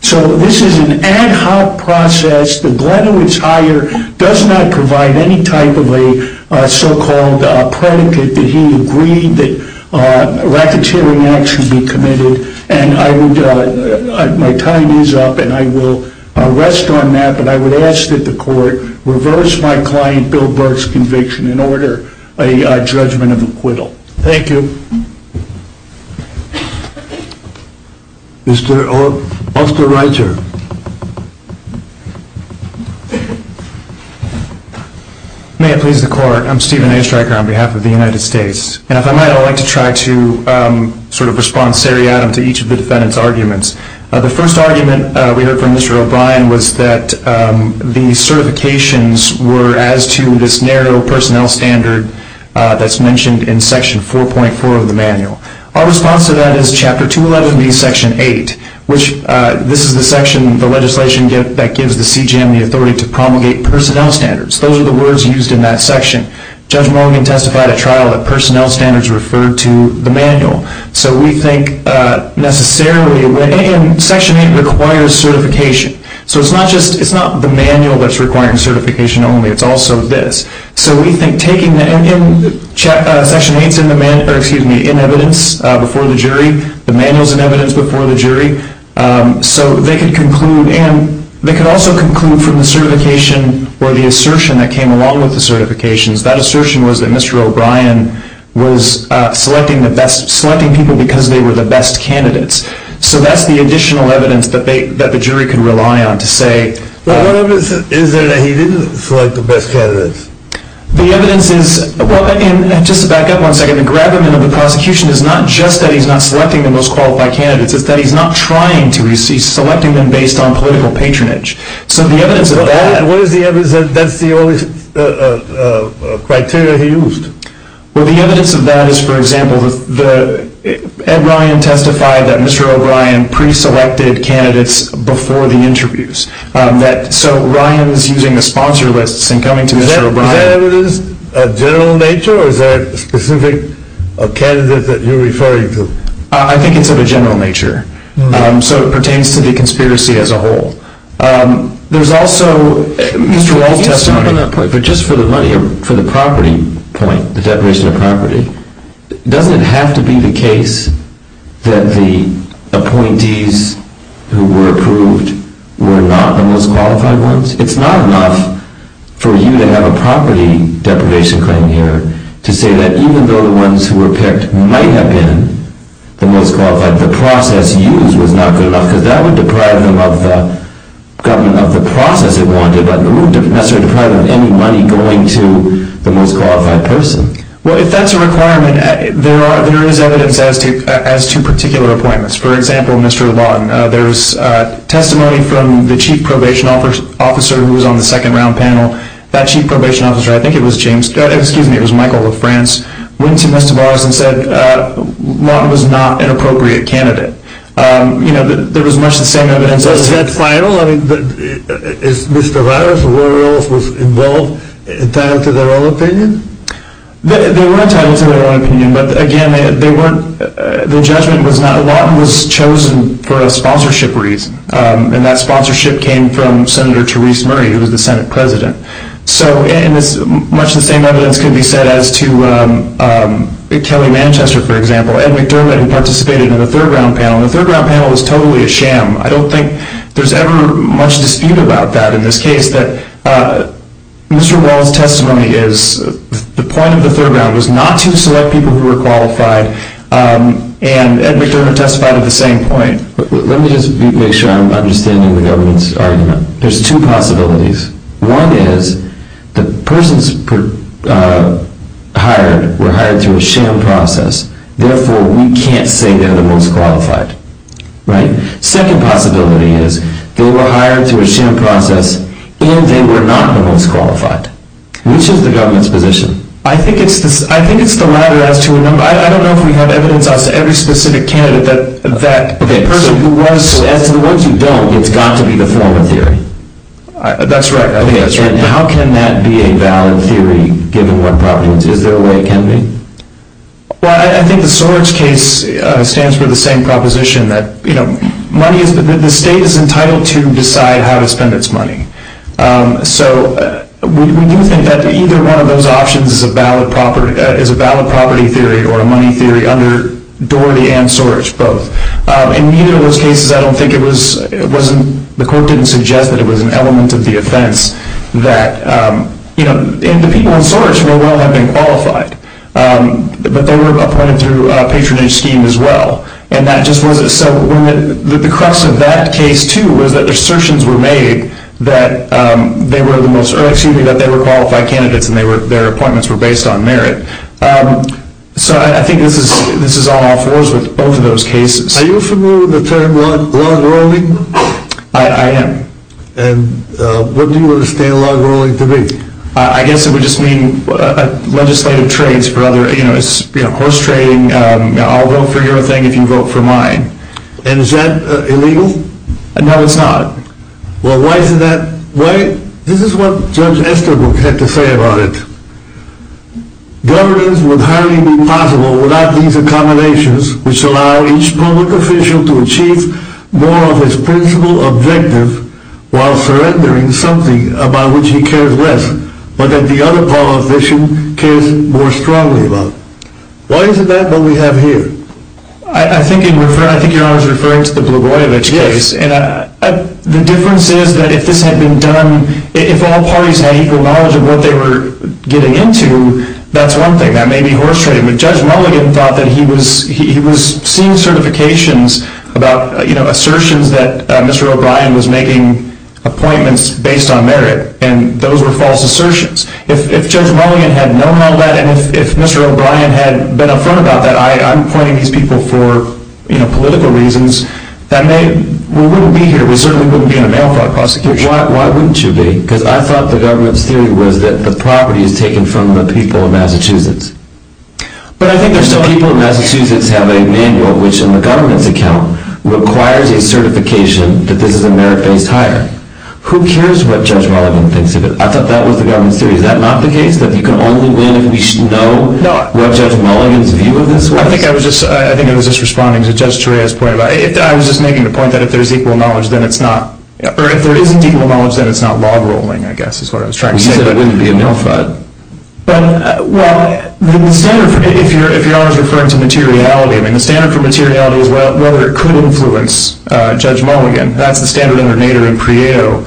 So this is an ad hoc process. The Grunowitz hire does not provide any type of a so-called predicate that he agreed that racketeering acts should be committed. My time is up, and I will rest on that, but I would ask that the court reverse my client Bill Burke's conviction and order a judgment and acquittal. Thank you. Mr. Osterreiter. May it please the court. I'm Stephen Osterreiter on behalf of the United States, and if I might, I would like to try to sort of respond seriatim to each of the defendants' arguments. The first argument we heard from Mr. O'Brien was that the certifications were as to this narrow personnel standard that's mentioned in Section 4.4 of the manual. Our response to that is Chapter 211B, Section 8, which this is the section of the legislation that gives the CGM the authority to promulgate personnel standards. Those are the words used in that section. Judge Morgan testified at trial that personnel standards referred to the manual. So we think necessarily Section 8 requires certification. So it's not the manual that's requiring certification only. It's also this. So we think taking the ending section 8 is in the manual, excuse me, in evidence before the jury. The manual is in evidence before the jury. So they can conclude, and they can also conclude from the certification or the assertion that came along with the certifications, that assertion was that Mr. O'Brien was selecting people because they were the best candidates. So that's the additional evidence that the jury can rely on to say. What evidence is there that he didn't select the best candidates? The evidence is, well, if I can just back up one second. The gravamen of the prosecution is not just that he's not selecting the most qualified candidates, it's that he's not trying to. He's selecting them based on political patronage. So the evidence of that. What is the evidence that that's the only criteria he used? Well, the evidence of that is, for example, Ed Ryan testified that Mr. O'Brien preselected candidates before the interviews. So Ryan was using a sponsor list in coming to Mr. O'Brien. Is that evidence of general nature or is that specific candidate that you're referring to? I think it's of a general nature. So it pertains to the conspiracy as a whole. There's also, Mr. O'Brien testified, but just for the money, for the property point, the separation of property, doesn't it have to be the case that the appointees who were approved were not the most qualified ones? It's not enough for you to have a property deprivation claim here to say that even though the ones who were picked might have been the most qualified, the process used was not good enough. Because that would deprive the government of the process it wanted, but it wouldn't necessarily deprive them of any money going to the most qualified person. Well, if that's a requirement, there is evidence as to particular appointments. For example, Mr. LeBlanc, there's testimony from the chief probation officer who was on the second round panel. That chief probation officer, I think it was Michael LaFrance, went to Mr. Bosman and said Martin was not an appropriate candidate. There was much the same evidence. Is that final? I mean, is Mr. LeBlanc or Lori Oles involved? Is that up to their own opinion? They weren't up to their own opinion, but again, the judgment was not. Martin was chosen for a sponsorship reason, and that sponsorship came from Senator Therese Murray, who was the Senate president. Much the same evidence can be said as to Kelly Manchester, for example. Ed McDermott participated in the third round panel. The third round panel was totally a sham. I don't think there's ever much dispute about that in this case, but Mr. Wall's testimony is the point of the third round was not to select people who were qualified, and Ed McDermott testified at the same point. Let me just make sure I'm understanding the government's argument. There's two possibilities. One is the persons hired were hired through a sham process, therefore we can't say they're the most qualified, right? Second possibility is they were hired through a sham process, and they were not the most qualified. Which is the government's position? I think it's a matter of two or three. I don't know if we have evidence as to every specific candidate that that person who was, as in those who don't, has got to be the former candidate. That's right. How can that be a valid theory, given what problems there may be? Well, I think the Soarich case stands for the same proposition that, you know, the state is entitled to decide how to spend its money. So we do think that either one of those options is a valid property theory or a money theory under Doherty and Soarich, both. In either of those cases, I don't think it was, the court didn't suggest that it was an element of the offense that, you know, and the people in Soarich were not having qualified, but they were appointed through a patronage scheme as well. And that just wasn't, so the crux of that case, too, was that assertions were made that they were the most, or excuse me, that they were qualified candidates and their appointments were based on merit. So I think this is on all fours with both of those cases. Are you familiar with the term log rolling? I am. And what do you understand log rolling to be? I guess it would just mean legislative trades for other, you know, it's, you know, horse trading, I'll vote for your thing if you vote for mine. And is that illegal? No, it's not. Well, why is that, why, this is what Judge Estherbook had to say about it. Governance would hardly be possible without these accommodations, which allow each public official to achieve more of his principal objective while surrendering something about which he cares less, but that the other public official cares more strongly about. Why isn't that what we have here? I think you're, I think Your Honor is referring to the Blagojevich case, and the difference is that if this had been done, if all parties had equal knowledge of what they were getting into, that's one thing, that may be horse trading. But Judge Mulligan thought that he was, he was seeing certifications about, you know, assertions that Mr. O'Brien was making appointments based on merit, and those were false assertions. If Judge Mulligan had known all that, and if Mr. O'Brien had been a friend about that, I'm pointing to these people for, you know, political reasons, that may, we wouldn't be here. We certainly wouldn't be in a mail flight prosecution. Why wouldn't you be? Because I thought the government's theory was that the property had taken from the people of Massachusetts. But I think there's some people in Massachusetts that have a manual, which in the government's account requires a certification that says the merit base is higher. Who cares what Judge Mulligan considers? I thought that was the government's theory. Is that not the case? That you can only then know what Judge Mulligan's view of this was? I think I was just, I think I was just responding to Judge Torreira's point about, I was just making the point that if there's equal knowledge, then it's not, or if there isn't equal knowledge, then it's not law-enrolling, I guess, is what I was trying to say. You said it wouldn't be a mail flight. Well, if you're always referring to materiality, the standard for materiality is whether it could influence Judge Mulligan. That's the standard in the Nader and Prieto.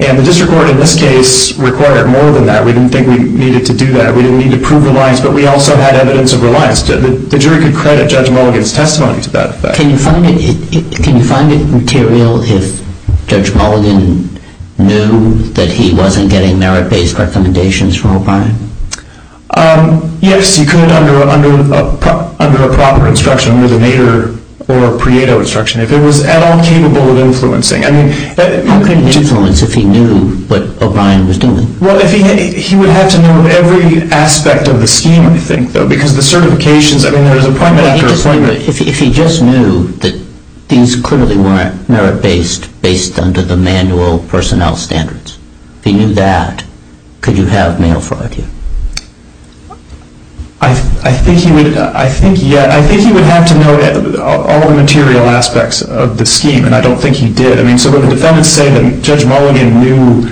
And the district court in this case required more than that. We didn't think we needed to do that. We didn't need to prove the lies, but we also had evidence of the lies. The jury could credit Judge Mulligan's testimony to that effect. Can you find it material if Judge Mulligan knew that he wasn't getting merit-based recommendations from O'Brien? Yes, you could under a proper instruction with a Nader or a Prieto instruction, if it was at all capable of influencing. How could it influence if he knew what O'Brien was doing? Well, if he knew, he would have to know every aspect of the scheme, I think, though, because the certifications, I mean, there's a prime minister's appointment. But if he just knew that things clearly weren't merit-based based on the manual personnel standards, if he knew that, could you have Nader or Prieto? I think he would have to know all the material aspects of the scheme, and I don't think he did. I mean, so when the defendants say that Judge Mulligan knew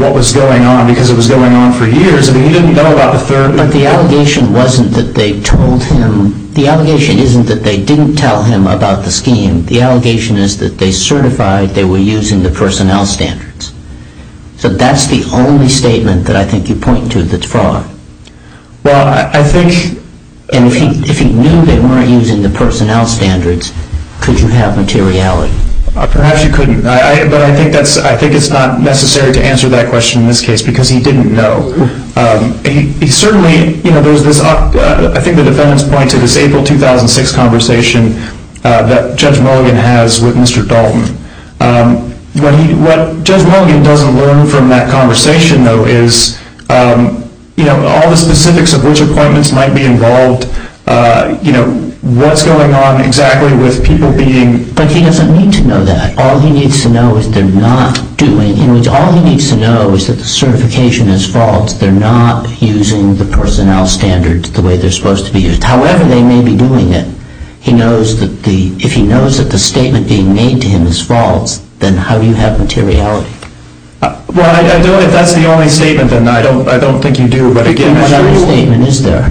what was going on because it was going on for years, I mean, he didn't know about the third. But the allegation wasn't that they told him. The allegation isn't that they didn't tell him about the scheme. The allegation is that they certified they were using the personnel standards. So that's the only statement that I think you point to that's wrong. Well, I think... And if he knew they weren't using the personnel standards, could you have materiality? Perhaps you couldn't, but I think it's not necessary to answer that question in this case because he didn't know. Certainly, you know, I think the defendants point to this April 2006 conversation that Judge Mulligan has with Mr. Dalton. What Judge Mulligan doesn't learn from that conversation, though, is, you know, all the specifics of which appointments might be involved, you know, what's going on exactly with people being... But he doesn't need to know that. All he needs to know is they're not doing... In other words, all he needs to know is that the certification is false. They're not using the personnel standards the way they're supposed to be used. However, they may be doing it. He knows that the... If he knows that the statement being made to him is false, then how do you have materiality? Well, I don't... That's the only statement, and I don't think you do, but... That's the only statement, isn't there?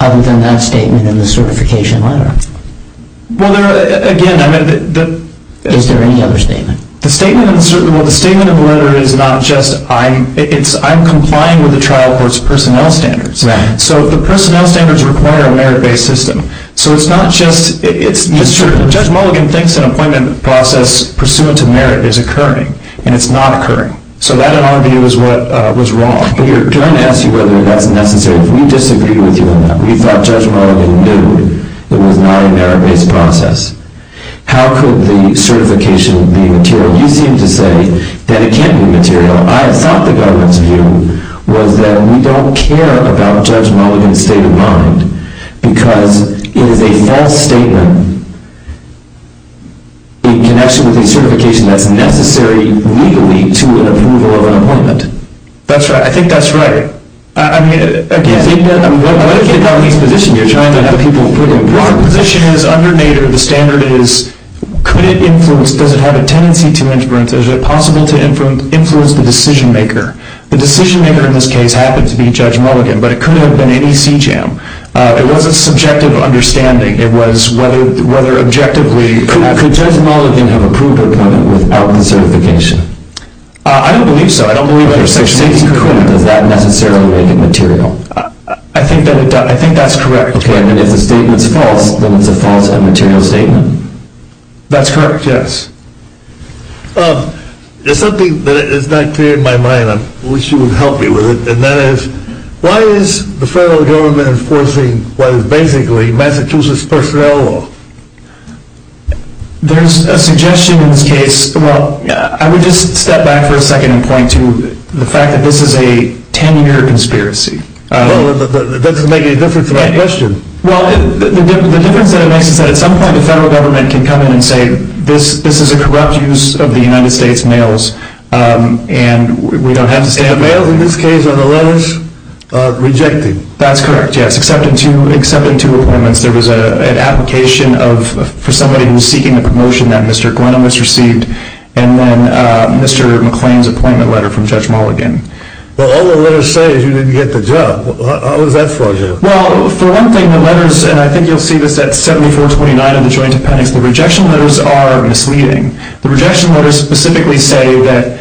Other than that statement in the certification letter. Well, there are... Again, I mean... Is there any other statement? The statement in the cert... Well, the statement in the letter is not just... I'm... It's... I'm complying with the trial court's personnel standards. Right. So the personnel standards require a merit-based system. So it's not just... It's... It's true. Judge Mulligan thinks an appointment process pursuant to merit is occurring, and it's not occurring. So that, in our view, is what was wrong. We're trying to ask you whether that's necessary. We disagree with you on that. We thought Judge Mulligan knew that it was not a merit-based process. How could the certification be material? You seem to say that it can't be material. I thought the government's view was that we don't care about Judge Mulligan's state of mind, because it is a false statement in connection with a certification that's necessary legally to an approval of an appointment. That's right. I think that's right. I mean, again, even though... I mean, what about the economy's position? You're trying to have people approve an appointment. The position is undermined, or the standard is... Could it influence... Does it have a tendency to influence? Is it possible to influence the decision-maker? The decision-maker in this case happened to be Judge Mulligan, but it couldn't have been any CJAM. It wasn't subjective understanding. It was whether objectively... Could Judge Mulligan have approved an appointment with Parliament's certification? I don't believe so. I don't believe there's such a need for an appointment without necessarily making material. I think that's correct. Judge Mulligan's statement is false, but it's a false un-material statement. That's correct, yes. There's something that is not clear in my mind. I wish you would help me with it, and that is, why is the federal government enforcing what is basically Massachusetts' first federal law? There's a suggestion in this case... I would just step back for a second and point to the fact that this is a 10-year conspiracy. That doesn't make any difference to my question. Well, the difference that it makes is that at some point the federal government can come in and say, this is a corrupt use of the United States' mails, and we don't have to stand up for it. And apparently this case on the letters? Rejected. That's correct, yes. Accepted two appointments. There was an application for somebody who was seeking a promotion that Mr. Glennon was received, and then Mr. McClain's appointment letter from Judge Mulligan. Well, all the letters say he didn't get the job. How is that for you? Well, for one thing, the letters, and I think you'll see this at 7429, the Joint Appendix, the rejection letters are misleading. The rejection letters specifically say that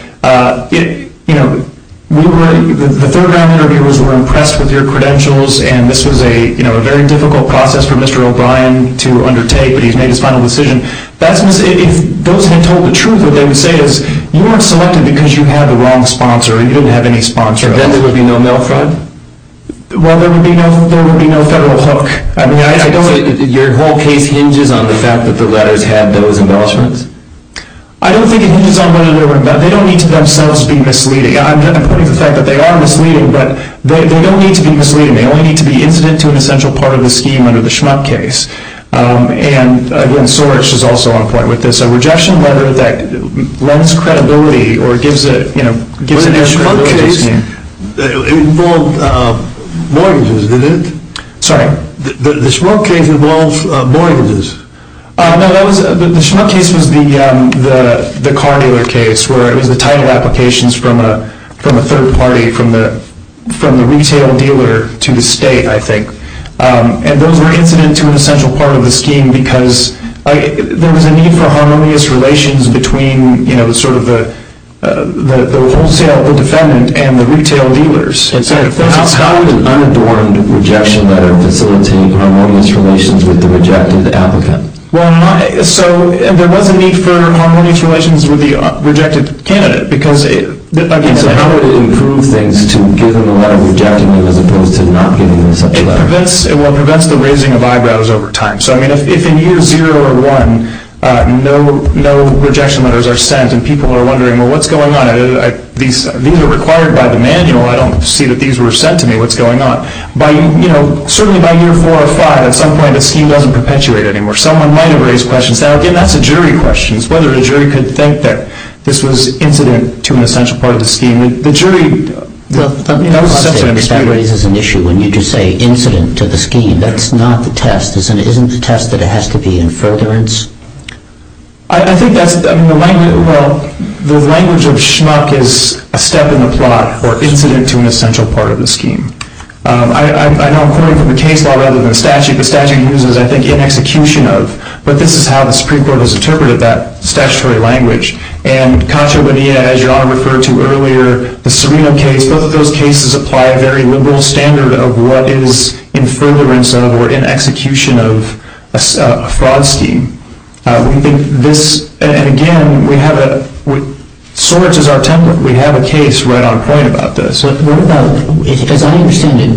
the third-round interviewers were impressed with your credentials, and this was a very difficult process for Mr. O'Brien to undertake, but he's made his final decision. If those had told the truth, what they would say is, you were selected because you had the wrong sponsor, or you didn't have any sponsor, then there would be no mail fraud. Well, there would be no federal hook. I mean, I don't think your whole case hinges on the fact that the letters had those embellishments. I don't think it hinges on whether they were embellished. They don't need to themselves be misleading. I'm putting aside that they are misleading, but they don't need to be misleading. They only need to be incident to an essential part of the scheme under the Schmuck case. And, again, Sorech is also on a point with this. A rejection letter that lends credibility or gives it, you know, gives it a credibility. The Schmuck case involved mortgages, did it? Sorry? The Schmuck case involved mortgages. No, the Schmuck case was the car dealer case, where it was a tie-in of applications from a third party, from the retail dealer to the state, I think. And those were incident to an essential part of the scheme, because there was a need for harmonious relations between, you know, sort of the wholesale defendant and the retail dealers. How would an unadorned rejection letter facilitate harmonious relations with the rejected applicant? Well, so there was a need for harmonious relations with the rejected candidate. I mean, so how would it improve things to give them a rejection letter as opposed to not giving them a rejection letter? Well, that's the raising of eyebrows over time. So, I mean, if in year zero or one no rejection letters are sent and people are wondering, well, what's going on? These are required by the manual. I don't see that these were sent to me. What's going on? But, you know, certainly by year four or five, at some point, the scheme doesn't perpetuate anymore. Someone might have raised questions. Now, again, that's a jury question. It's whether the jury could think that this was incident to an essential part of the scheme. The jury, well, you know, that's an understatement. That raises an issue. When you just say incident to the scheme, that's not the test. Isn't the test that it has to be in furtherance? I think that's, well, the language of schmuck is a step in the plot or incident to an essential part of the scheme. I'm quoting from the case law rather than the statute. The statute uses, I think, in execution of. But this is how the Supreme Court has interpreted that statutory language. And Contra Bonita, as you all referred to earlier, the Serino case, both of those cases apply a very liberal standard of what is in furtherance of or in execution of a fraud scheme. And, again, we have a case right on point about this. As I understand it,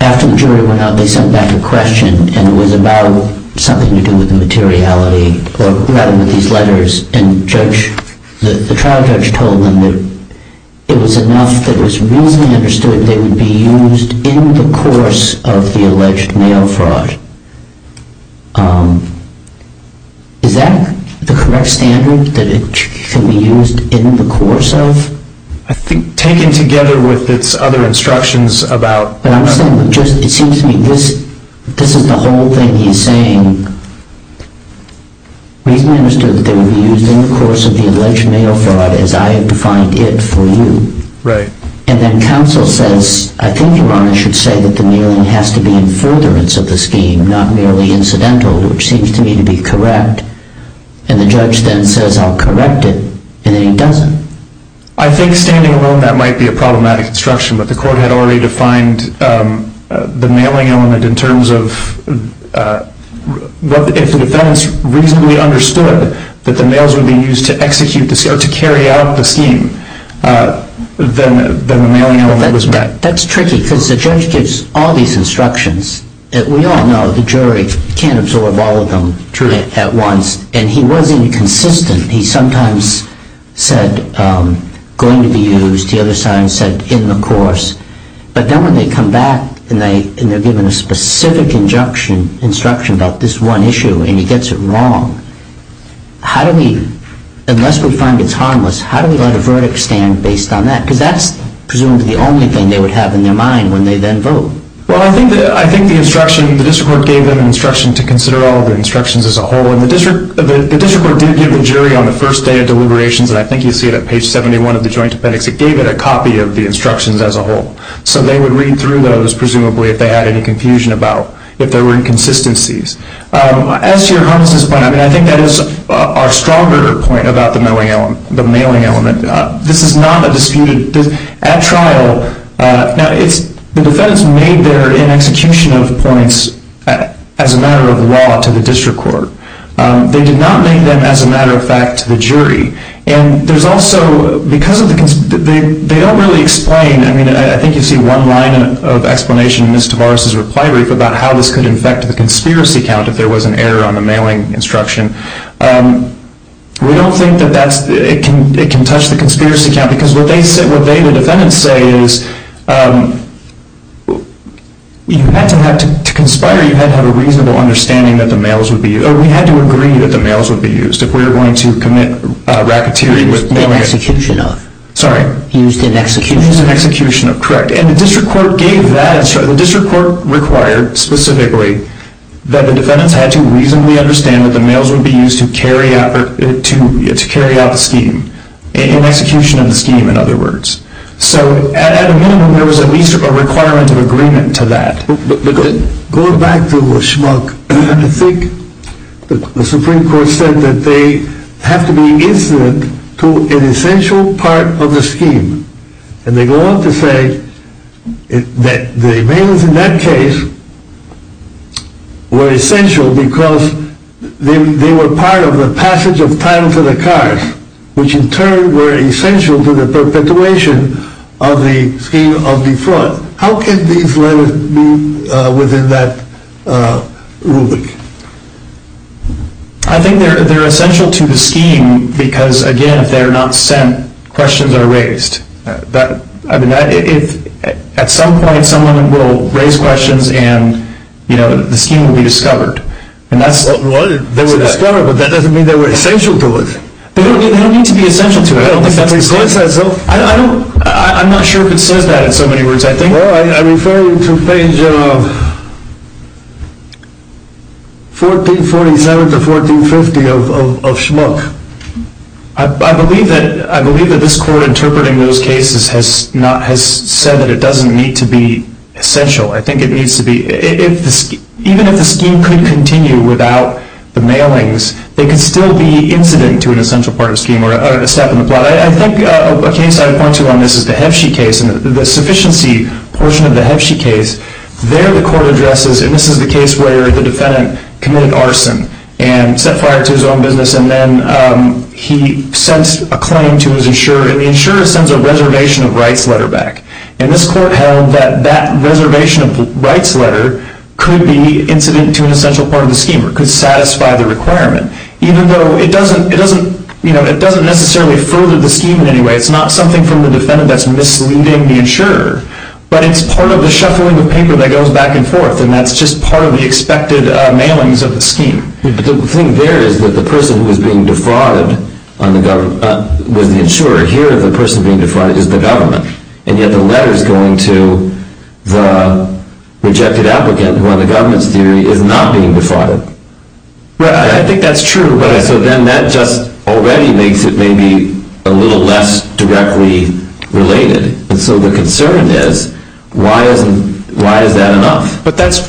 after the jury went out, they sent back a question. And it was about something to do with materiality rather than these letters. And the trial judge told them that it was enough that it was reasonably understood that they would be used in the course of the alleged mail fraud. Is that the correct standard, that it should be used in the course of? I think, taken together with its other instructions about. But I'm just saying, it seems to me, this isn't the whole thing he's saying. The reason it's understood that they would be used in the course of the alleged mail fraud is I have defined it for you. Right. And then counsel says, I think Your Honor should say that the mailing has to be in furtherance of the scheme, not merely incidental, which seems to me to be correct. And the judge then says, I'll correct it. And then he doesn't. I think, standing alone, that might be a problematic instruction. But the court had already defined the mailing element in terms of, if the defense reasonably understood that the mails would be used to execute, then the mailing element was correct. That's tricky, because the judge gives all these instructions. We all know the jury can't absorb all of them at once. And he wasn't consistent. He sometimes said, going to be used. The other side said, in the course. But then when they come back and they're given a specific injunction, instruction about this one issue, and he gets it wrong, how do we, unless we find it's harmless, how do we let a verdict stand based on that? Because that's presumably the only thing they would have in their mind when they then vote. Well, I think the instruction, the district court gave them an instruction to consider all of the instructions as a whole. And the district court did give the jury on the first day of deliberations, and I think you'll see it on page 71 of the joint appendix, it gave it a copy of the instructions as a whole. So they would read through those, presumably, if they had any confusion about, if there were inconsistencies. As to your comment on this point, I think that is our stronger point about the mailing element. This is not a disputed, at trial, the defense made their institutional points as a matter of law to the district court. They did not make them as a matter of fact to the jury. And there's also, because of the, they don't really explain, I mean, I think you see one line of explanation in Ms. Tavares' reply brief about how this could affect the conspiracy count if there was an error on the mailing instruction. We don't think that that's, it can touch the conspiracy count, because what they, the defendants say is, you have to have, to conspire, you have to have a reasonable understanding that the mails would be, or we have to agree that the mails would be used. If we're going to commit racketeering with mail... Sorry. Used in execution. Used in execution, correct. And the district court gave that, the district court required, specifically, that the defendants had to reasonably understand that the mails would be used to carry out a scheme. An execution of the scheme, in other words. So, at a minimum, there was at least a requirement of agreement to that. Because, going back to the schmuck, I think the Supreme Court said that they have to be insolent to an essential part of the scheme. And they go on to say that the mails in that case were essential because they were part of the passage of time to the cars, which in turn were essential to the perpetuation of the scheme of the flood. How could these letters move within that rubric? I think they're essential to the scheme because, again, if they're not sent, questions are raised. But, I mean, at some point someone will raise questions and, you know, the scheme will be discovered. And that's what was discovered, but that doesn't mean they were essential to it. They don't need to be essential to it. I don't think somebody's going to it. Well, I'm not sure if it says that in so many words. I think it says 1447 to 1450 of schmuck. I believe that this Court interpreting those cases has said that it doesn't need to be essential. I think it needs to be. Even if the scheme could continue without the mailings, they could still be incident to an essential part of the scheme or a step in the flood. I think a case I'd point to on this is the Hebshie case and the sufficiency portion of the Hebshie case. There the Court addresses, and this is the case where the defendant committed arson and set fire to his own business, and then he sends a claim to his insurer, and the insurer sends a reservation of rights letter back. And this Court held that that reservation of rights letter could be incident to an essential part of the scheme or could satisfy the requirement, even though it doesn't necessarily refer to the scheme in any way. It's not something from the defendant that's misleading the insurer, but it's part of the shuffling of paper that goes back and forth, and that's just part of the expected mailings of the scheme. The thing there is that the person who's being defrauded on the government, with the insurer here, the person being defrauded is the government, and yet the letter's going to the rejected applicant when the government's theory is not being defrauded. I think that's true. So then that just already makes it maybe a little less directly related. And so the concern is, why is that enough?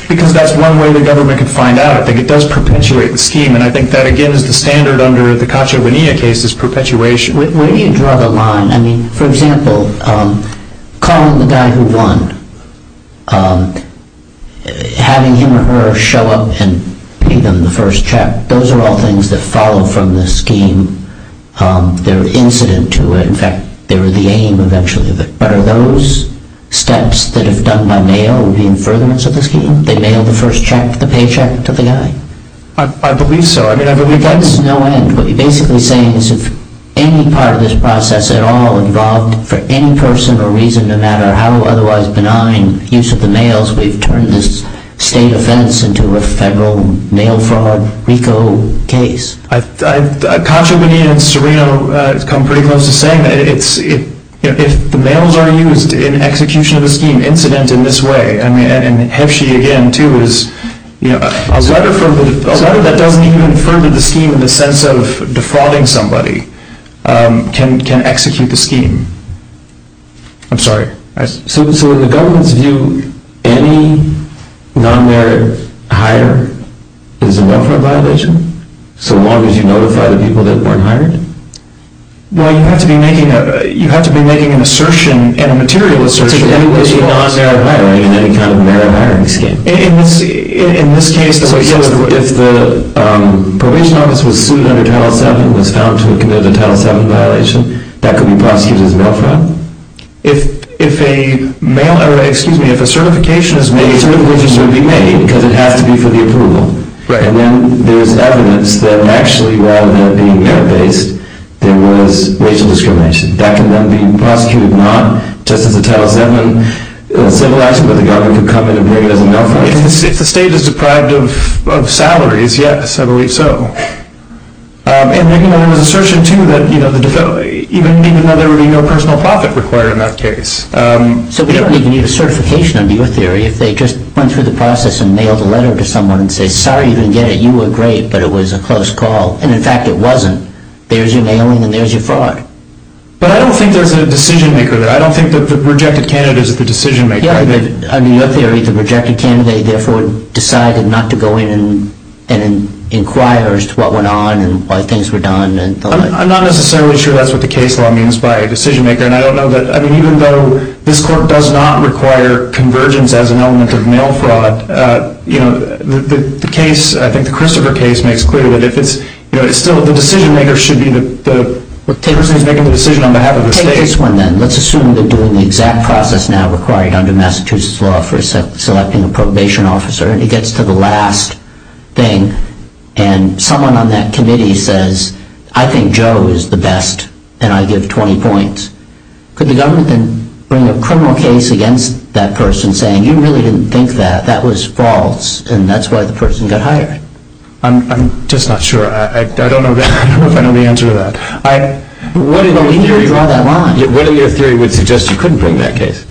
Because that's one way the government can find out. I think it does perpetuate the scheme, and I think that, again, is the standard under the Caccia Bonilla case is perpetuation. Where do you draw the line? I mean, for example, calling the guy who won, having him or her show up and give them the first check, those are all things that follow from the scheme. They're incident to it. In fact, they were the aim eventually of it. But are those steps that are done by mail the impertinence of the scheme? They mail the first check, the paycheck to the guy? I believe so. I mean, there's no end. What you're basically saying is if any part of this process at all involved, for any personal reason, no matter how otherwise benign the use of the mail is, we've turned this state offense into a federal mail fraud RICO case. Caccia Bonilla and Serino come pretty close to saying that if the mails are used in execution of the scheme, incident in this way, and Heschey again, too, is a letter that doesn't even further the scheme in the sense of defrauding somebody, can execute the scheme. I'm sorry. So the government's view, any non-merit hire is a non-merit violation? So long as you notify the people that weren't hired? Well, you have to be making an assertion, and a material assertion. Any non-merit hiring, any non-merit hiring scheme? In this case, if the probation office was sued under Title VII, was found to have committed a Title VII violation, that could be prosecuted as mail fraud. If a certification is made, certainly it needs to be made because it has to be for the approval. Right. And then there's evidence that actually rather than being mail-based, it was racial discrimination. That could end up being prosecuted, not just under Title VII, and civilized by the government to come in and bring it up and go. If the state is deprived of salaries, yes, I believe so. And making another assertion, too, that even another personal profit required in that case. So we don't even need a certification under your theory. If they just went through the process and mailed a letter to someone and said, sorry, you didn't get it, you were great, but it was a close call. And in fact, it wasn't. There's your mailing and there's your fraud. But I don't think there's a decision-maker there. I don't think the rejected candidate is the decision-maker. Yeah, under your theory, the rejected candidate therefore decided not to go in and inquire as to what went on and why things were done. I'm not necessarily sure that's what the case law means by decision-maker. I mean, even though this court does not require conversions as an element of mail fraud, the case, I think the Christopher case makes clear what it is. Still, the decision-maker should be the person who's making the decision on behalf of the case. Let's assume they're doing the exact process now required under Massachusetts law for selecting a probation officer, and he gets to the last thing. And someone on that committee says, I think Joe is the best, and I give 20 points. Could the government bring a criminal case against that person saying, you really didn't think that, that was false, and that's why the person got hired? I'm just not sure. I don't know the answer to that. What is your theory? What is your theory if you just couldn't bring that case?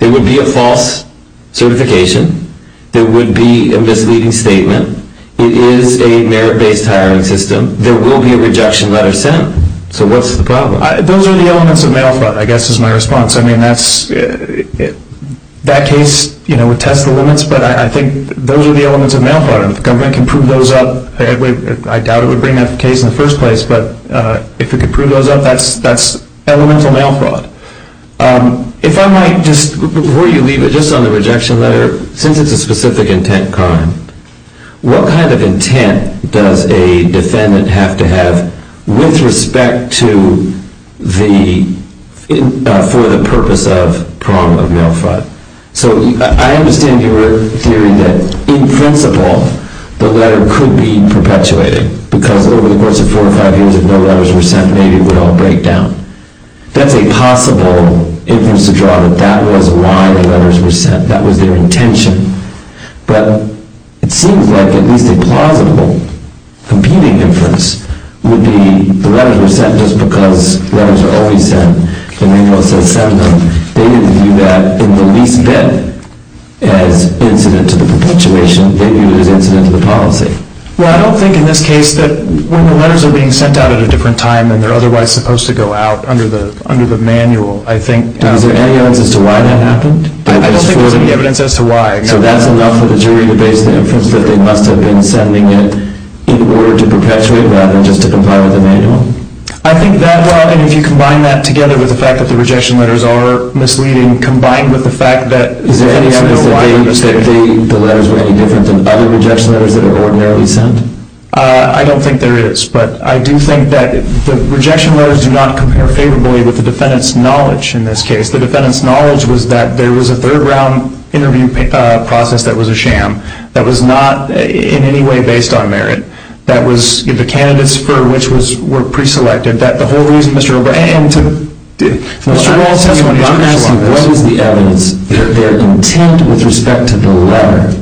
It would be a false certification. It would be a misleading statement. It is a merit-based hiring system. There will be a rejection letter sent. So what's the problem? Those are the elements of mail fraud, I guess, is my response. I mean, that case would test the limits, but I think those are the elements of mail fraud. If the government can prove those up, I doubt it would bring that case in the first place, but if it could prove those up, that's elemental mail fraud. If I might just, before you leave it, just on the rejection letter, since it's a specific intent crime, what kind of intent does a defendant have to have with respect to the purpose of problem of mail fraud? So I understand your theory that, in principle, the letter could be perpetuated, because if it was more than 45 days, if no letters were sent, maybe it would all break down. That's a possible instance of drug. That was why the letters were sent. That was their intention. But it seems like a really plausible computing difference would be the letters were sent just because the letters were always sent. The mail was always sent. They didn't do that in the least bit. They didn't do that to the perpetuation. They did it against the end of the policy. Well, I don't think in this case that when the letters are being sent out at a different time and they're otherwise supposed to go out under the manual, I think... Is there any evidence as to why that happened? I don't think there's any evidence as to why, because that's enough of a jury debate since they must have been sending it in order to perpetuate rather than just to compile the manual. I think that, well, I mean, if you combine that together with the fact that the rejection letters are misleading, combined with the fact that... Is there any evidence as to why you're mistaking the letters with other rejection letters that are ordinarily sent? I don't think there is, but I do think that the rejection letters do not compare favorably with the defendant's knowledge in this case. The defendant's knowledge was that there was a third-round interview process that was a sham, that was not in any way based on merit, that the candidates for which were preselected, that the whole reason Mr. O'Brien took... Beyond that one, what is the evidence that their intent with respect to the letter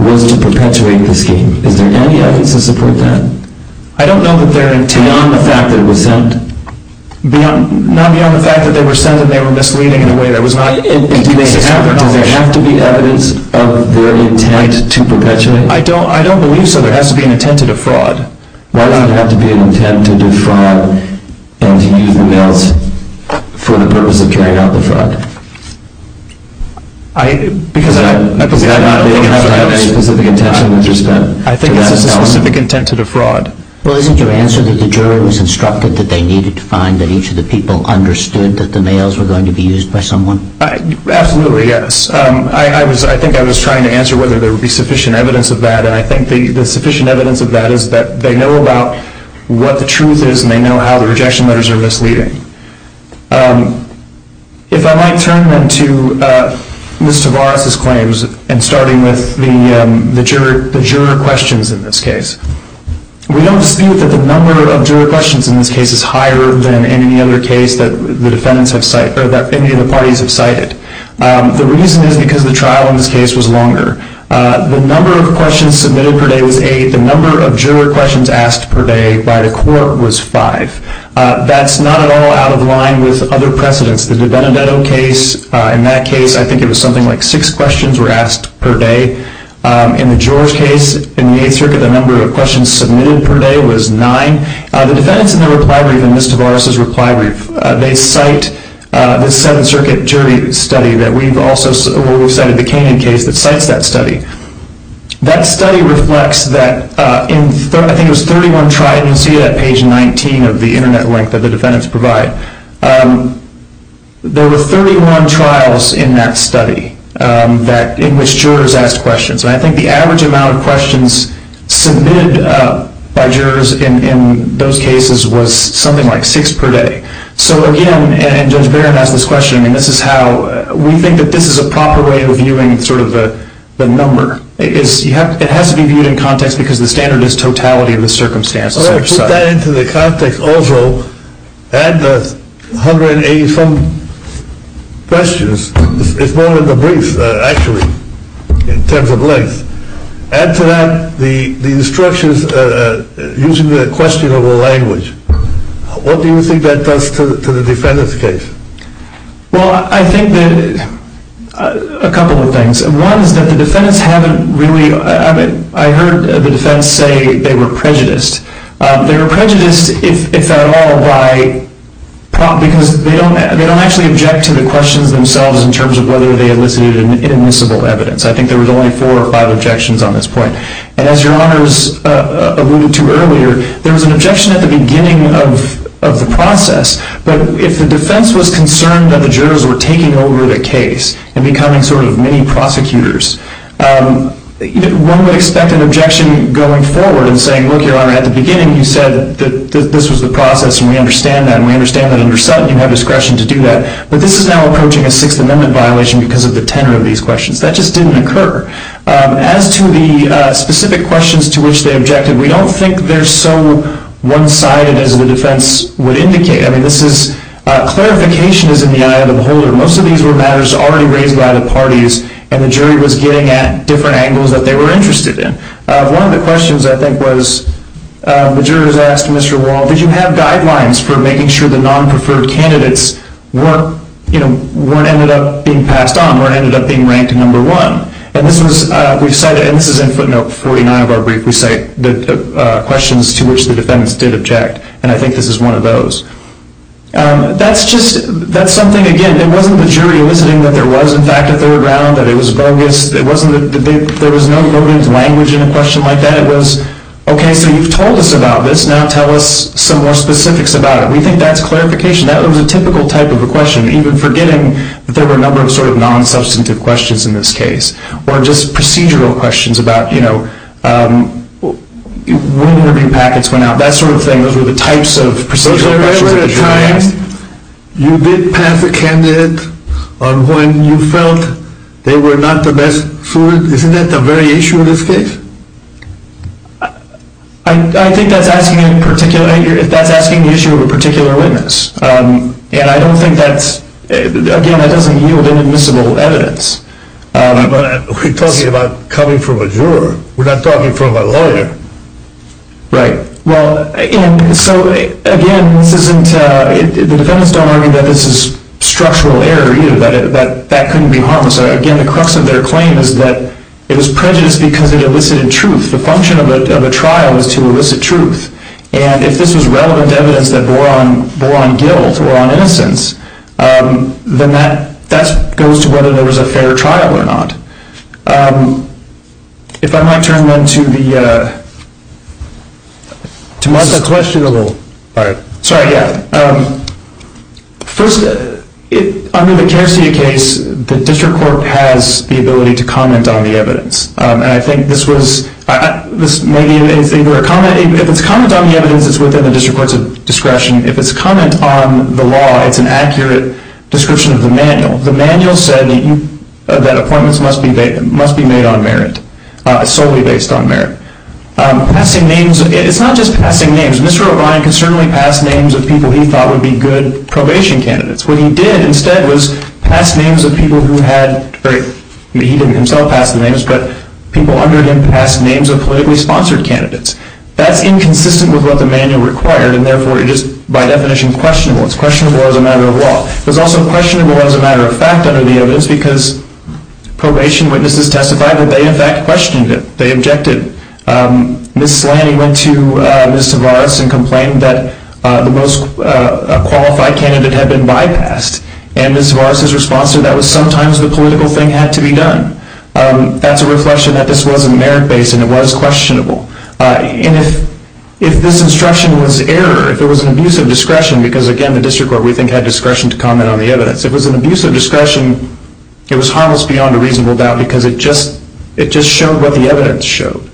was to perpetuate this case? Is there any evidence to support that? I don't know that their intent... Beyond the fact that it was sent? Beyond the fact that they were sent and they were misleading in a way that was not... Do they have to be evidence of their intent to perpetuate? I don't believe so. There has to be an intent to defraud. Why does it have to be an intent to defraud for the purpose of trying to defraud? I think that's a specific intent to defraud. Well, isn't your answer that the jury was instructed that they needed to find that each of the people understood that the mails were going to be used by someone? Absolutely, yes. I think I was trying to answer whether there would be sufficient evidence of that, and I think the sufficient evidence of that is that they know about what the truth is, and they know how the rejection letters are misleading. If I might turn then to Mr. Barrack's claims, and starting with the juror questions in this case. We don't dispute that the number of juror questions in this case is higher than any other case that the defendants have cited, or that any of the parties have cited. The reason is because the trial in this case was longer. The number of questions submitted per day was eight. The number of juror questions asked per day by the court was five. That's not at all out of line with other precedents. The DiBenedetto case, in that case, I think it was something like six questions were asked per day. In the George case, in the Eighth Circuit, the number of questions submitted per day was nine. The defendants in the repriority of Mr. Barrack's reply group, they cite the Seventh Circuit jury study that we've also cited, the Canyon case that cites that study. That study reflects that in what I think was 31 trials, you can see that on page 19 of the Internet link that the defendants provide. There were 31 trials in that study in which jurors asked questions. I think the average amount of questions submitted by jurors in those cases was something like six per day. So, again, and Judge Barron has this question, and this is how we think that this is a proper way of viewing sort of the number. It has to be viewed in context because the standard is totality of the circumstances. Put that into the context also. Add the 180-some questions. It's more of a brief, actually, in terms of length. Add to that the instructions using the questionable language. What do you think that does to the defendants' case? Well, I think that a couple of things. One is that the defendants haven't really, I heard the defendants say they were prejudiced. They were prejudiced, if at all, why? Because they don't actually object to the questions themselves in terms of whether they elicited inadmissible evidence. I think there was only four or five objections on this point. And as Your Honor was alluding to earlier, there was an objection at the beginning of the process. But if the defense was concerned that the jurors were taking over the case and becoming sort of mini-prosecutors, one would expect an objection going forward and saying, look, Your Honor, at the beginning you said that this was the process, and we understand that, and we understand that under Sutton you have discretion to do that. But this is now approaching a Sixth Amendment violation because of the tenor of these questions. That just didn't occur. As to the specific questions to which they objected, we don't think they're so one-sided as the defense would indicate. I mean, this is, clarification is in the eye of the beholder. Most of these were matters already raised by the parties, and the jury was getting at different angles that they were interested in. One of the questions, I think, was the jurors asked Mr. Wall, did you have guidelines for making sure the non-preferred candidates weren't, you know, weren't ended up being passed on, weren't ended up being ranked number one. And this was, we've cited, and this is in footnote 49 of our brief, we cite the questions to which the defendants did object, and I think this is one of those. That's just, that's something, again, it wasn't the jury eliciting that there was, in fact, a third round, that it was bogus. It wasn't the big, there was no bogus language in a question like that. It was, okay, so you've told us about this, now tell us some more specifics about it. We think that's clarification. That was a typical type of a question, even forgetting that there were a number of sort of non-substantive questions in this case, or just procedural questions about, you know, when the moving packets went out, that sort of thing. Those were the types of procedural questions. So at the time, you did pass a candidate on when you felt they were not the best food? Isn't that the very issue of this case? I think that's asking the issue of a particular witness, and I don't think that's, again, I don't think you have inadmissible evidence. But we're talking about coming from a juror. We're not talking from a lawyer. Right. Well, and so, again, the defendants don't argue that this is structural error either, that that couldn't be harmless. Again, the crux of their claim is that it was prejudiced because it elicited truth. The function of a trial is to elicit truth. And if this is relevant evidence that bore on guilt or on innocence, then that goes to whether there was a fair trial or not. If I might turn then to the, to my question a little. All right. Sorry, yeah. First, under the Jersey case, the district court has the ability to comment on the evidence. And I think this was, maybe if it's comment on the evidence, it's within the district court's discretion. If it's comment on the law, it's an accurate description of the manual. The manual said that appointments must be made on merit, solely based on merit. Passing names, it's not just passing names. Mr. O'Brien could certainly pass names of people he thought would be good probation candidates. What he did instead was pass names of people who had very, he didn't himself pass the names, but people under him passed names of politically sponsored candidates. That's inconsistent with what the manual required, and therefore it is by definition questionable. It's questionable as a matter of law. It was also questionable as a matter of fact under the evidence because probation witnesses testified that they in fact questioned him. They objected. Ms. Slaney went to Ms. Tavares and complained that the most qualified candidate had been bypassed. And Ms. Tavares' response to that was sometimes the political thing had to be done. That's a reflection that this was a merit-based and it was questionable. And if this instruction was error, if it was an abuse of discretion, because again, the district court we think had discretion to comment on the evidence. If it was an abuse of discretion, it was harmless beyond a reasonable doubt because it just showed what the evidence showed.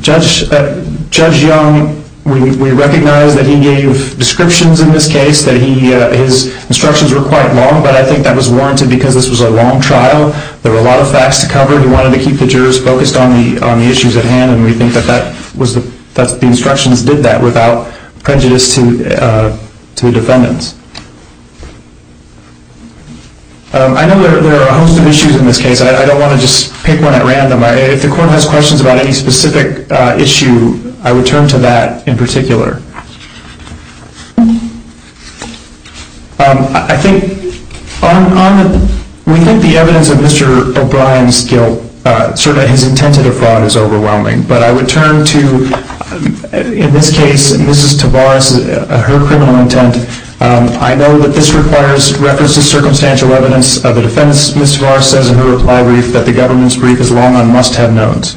Judge Young, we recognize that he gave descriptions in this case, that his instructions were quite long, but I think that was warranted because this was a long trial. There were a lot of facts to cover. He wanted to keep the jurors focused on the issues at hand, and we think that the instructions did that without prejudice to the defendants. I know there are a host of issues in this case. I don't want to just pick one at random. If the court has questions about any specific issue, I would turn to that in particular. We think the evidence of Mr. O'Brien's guilt, certainly his intent to defraud, is overwhelming. But I would turn to, in this case, Mrs. Tavares, her criminal intent. I know that this requires reference to circumstantial evidence of a defense. Mrs. Tavares says in her reply brief that the government's brief is long on must-have notes.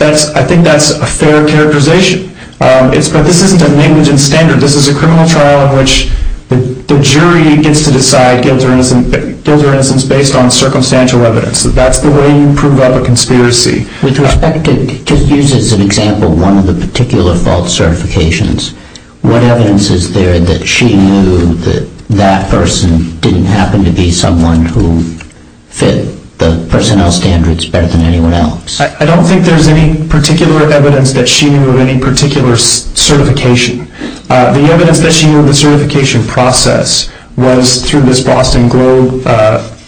I think that's a fair characterization. But this isn't a maintenance standard. This is a criminal trial in which the jury gets to decide, gives their instance based on circumstantial evidence. That's the way you prove a conspiracy. To use as an example one of the particular false certifications, what evidence is there that she knew that that person didn't happen to be someone who fit the personnel standards better than anyone else? I don't think there's any particular evidence that she knew of any particular certification. The evidence that she knew of the certification process was through this Boston Globe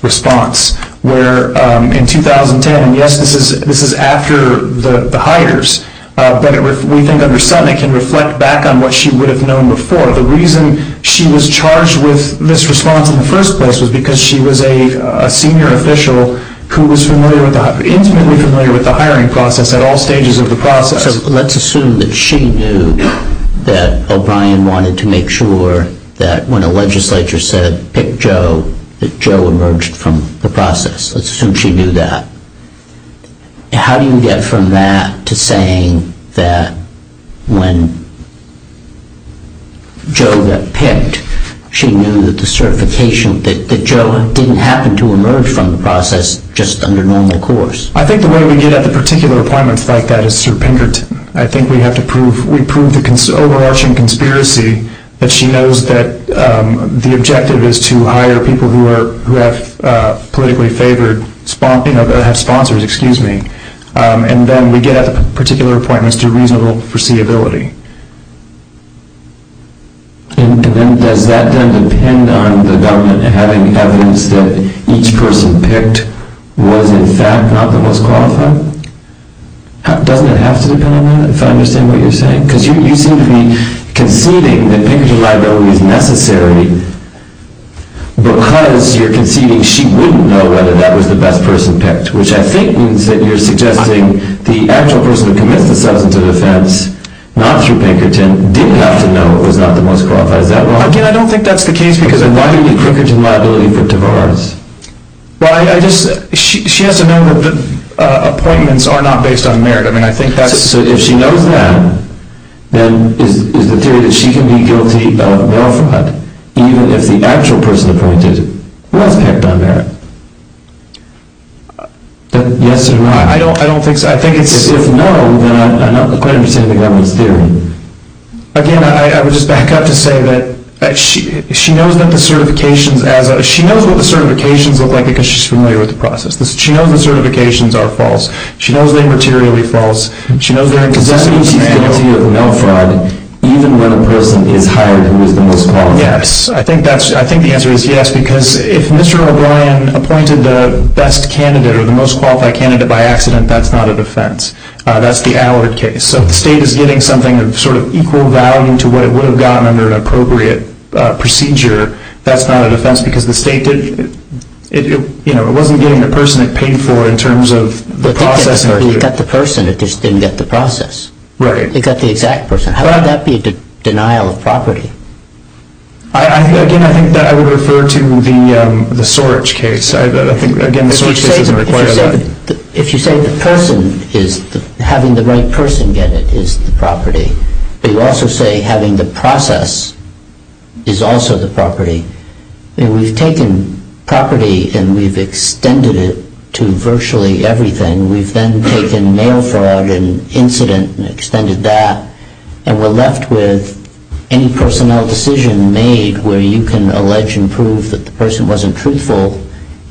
response, where in 2010, yes, this is after the hires, but we didn't understand it can reflect back on what she would have known before. The reason she was charged with misresponse in the first place was because she was a senior official who was instantly familiar with the hiring process at all stages of the process. So let's assume that she knew that O'Brien wanted to make sure that when a legislature said, pick Joe, that Joe emerged from the process. Let's assume she knew that. How do you get from that to saying that when Joe got picked, she knew that the certification, that Joe didn't happen to emerge from the process just under normal course? I think the way we get at the particular requirements like that is through Pinkert. I think we have to prove the overarching conspiracy that she knows that the objective is to hire people who have politically favored sponsors, and then we get a particular point as to reasonable foreseeability. And then does that then depend on the government having evidence that each person picked was, in fact, not the most qualified? Does it have to depend on that? So I understand what you're saying. Because you're using the conceding that Pinkert's liability is necessary because you're conceding she wouldn't know whether that was the best person picked, which I think means that you're suggesting the actual person who committed the substance of the offense, not you, Pinkerton, did not have done what was not the most qualified. Again, I don't think that's the case, because then why do you think Pinkert's liability pertains to ours? Well, she has to know that the appointments are not based on merit. I mean, I think she has to say that if she knows that, then it's a theory that she can be guilty of welfare, even if the actual person appointed wasn't held on that. Yes or no? I don't think so. I think it's a no that I'm not required to say anything on this theory. Again, I would just back up to say that she knows what the certifications look like, because she's familiar with the process. She knows the certifications are false. She knows they're materially false. She knows they're in concession to the penalty of welfare, even when the person is hired, who is the most qualified. Yes. I think the answer is yes, because if Mr. O'Brien appointed the best candidate or the most qualified candidate by accident, that's not a defense. That's the Allard case. So if the state is getting something of sort of equal value to what it would have gotten under an appropriate procedure, that's not a defense, because the state didn't, you know, it wasn't getting the person it paid for in terms of the process. It didn't get the person. It just didn't get the process. Right. It got the exact person. How can that be a denial of property? Again, I think that I would refer to the Sorich case. If you say the person is having the right person get it is the property, but you also say having the process is also the property, then we've taken property and we've extended it to virtually everything. We've then taken mail fraud and incident and extended that, and we're left with any personnel decision made where you can allege and prove that the person wasn't truthful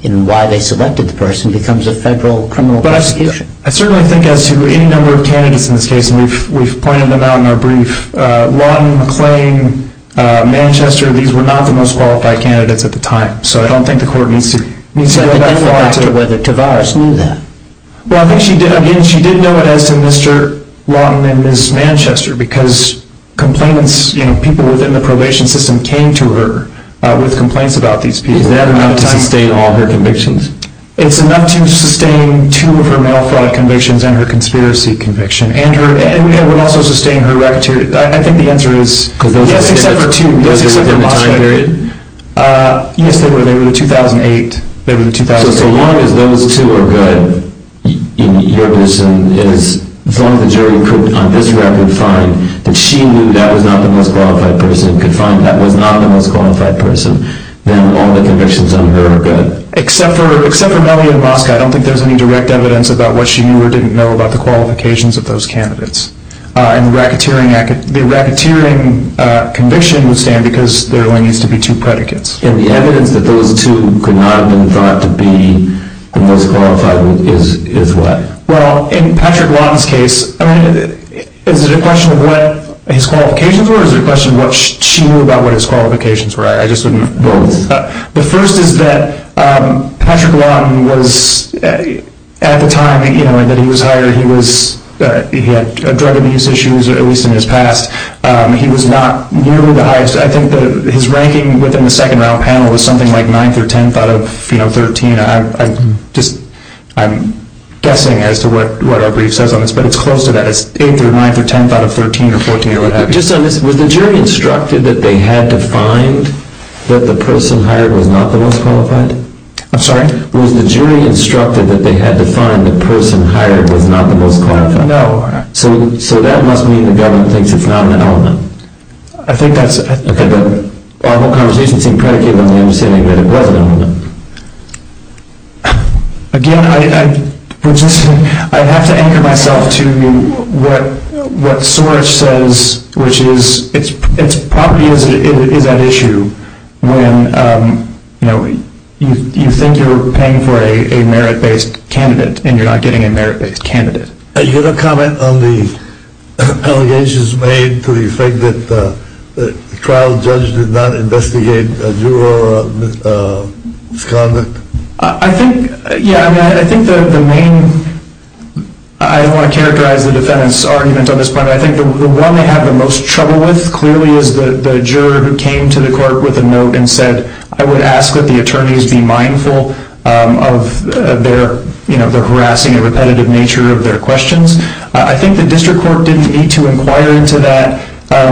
in why they selected the person becomes a federal criminal prosecution. I certainly think as any number of candidates in this case, and we've pointed them out in our brief, Lawton, McClain, Manchester, these were not the most qualified candidates at the time, so I don't think the court needs to go back to that. It depends on whether Tavares knew that. Well, I think she did know it as in Mr. Lawton and Ms. Manchester because people within the probation system came to her with complaints about these people. That amounted to sustaining all her convictions. It's enough to sustain two of her mail fraud convictions and her conspiracy conviction. And it would also sustain her racketeering. I think the answer is yes, except for two. Yes, they were. They were in 2008. So as long as those two are good, you're assuming that as long as the jury could find that she knew that was not the most qualified person, could find that was not the most qualified person, then all the convictions under her are good. Except for Melvin and Moskow. I don't think there's any direct evidence about what she knew or didn't know about the qualifications of those candidates. And the racketeering conviction would stand because there only needs to be two predicates. And the evidence that those two could not have been thought to be the most qualified is lack. Well, in Patrick Lawton's case, is it a question of what his qualifications were? Or is it a question of what she knew about what his qualifications were? I just didn't vote. The first is that Patrick Lawton was, at the time that he was hired, he had drug abuse issues, at least in his past. He was not nearly the highest. I think that his ranking within the second panel was something like 9th or 10th out of 13. I'm guessing as to what our brief says on this, but it's close to that. It's 8th or 9th or 10th out of 13 or 14 or what have you. Was the jury instructed that they had to find that the person hired was not the most qualified? I'm sorry? Was the jury instructed that they had to find the person hired was not the most qualified? No. So that must mean that Melvin thinks he's not Melvin. I think that's a kind of—well, I'm not going to be too crazy when I'm saying that it wasn't Melvin. Again, I have to anchor myself to what Soros says, which is it probably is an issue when you think you're paying for a merit-based candidate and you're not getting a merit-based candidate. Did you have a comment on the allegations made to the effect that the trial judge did not investigate a juror of this conduct? I think, yeah, I mean, I think the main—I don't want to characterize the defendant's argument on this point, but I think the one they had the most trouble with clearly was the juror who came to the court with a note and said, I would ask that the attorneys be mindful of their harassing and repetitive nature of their questions. I think the district court didn't need to inquire into that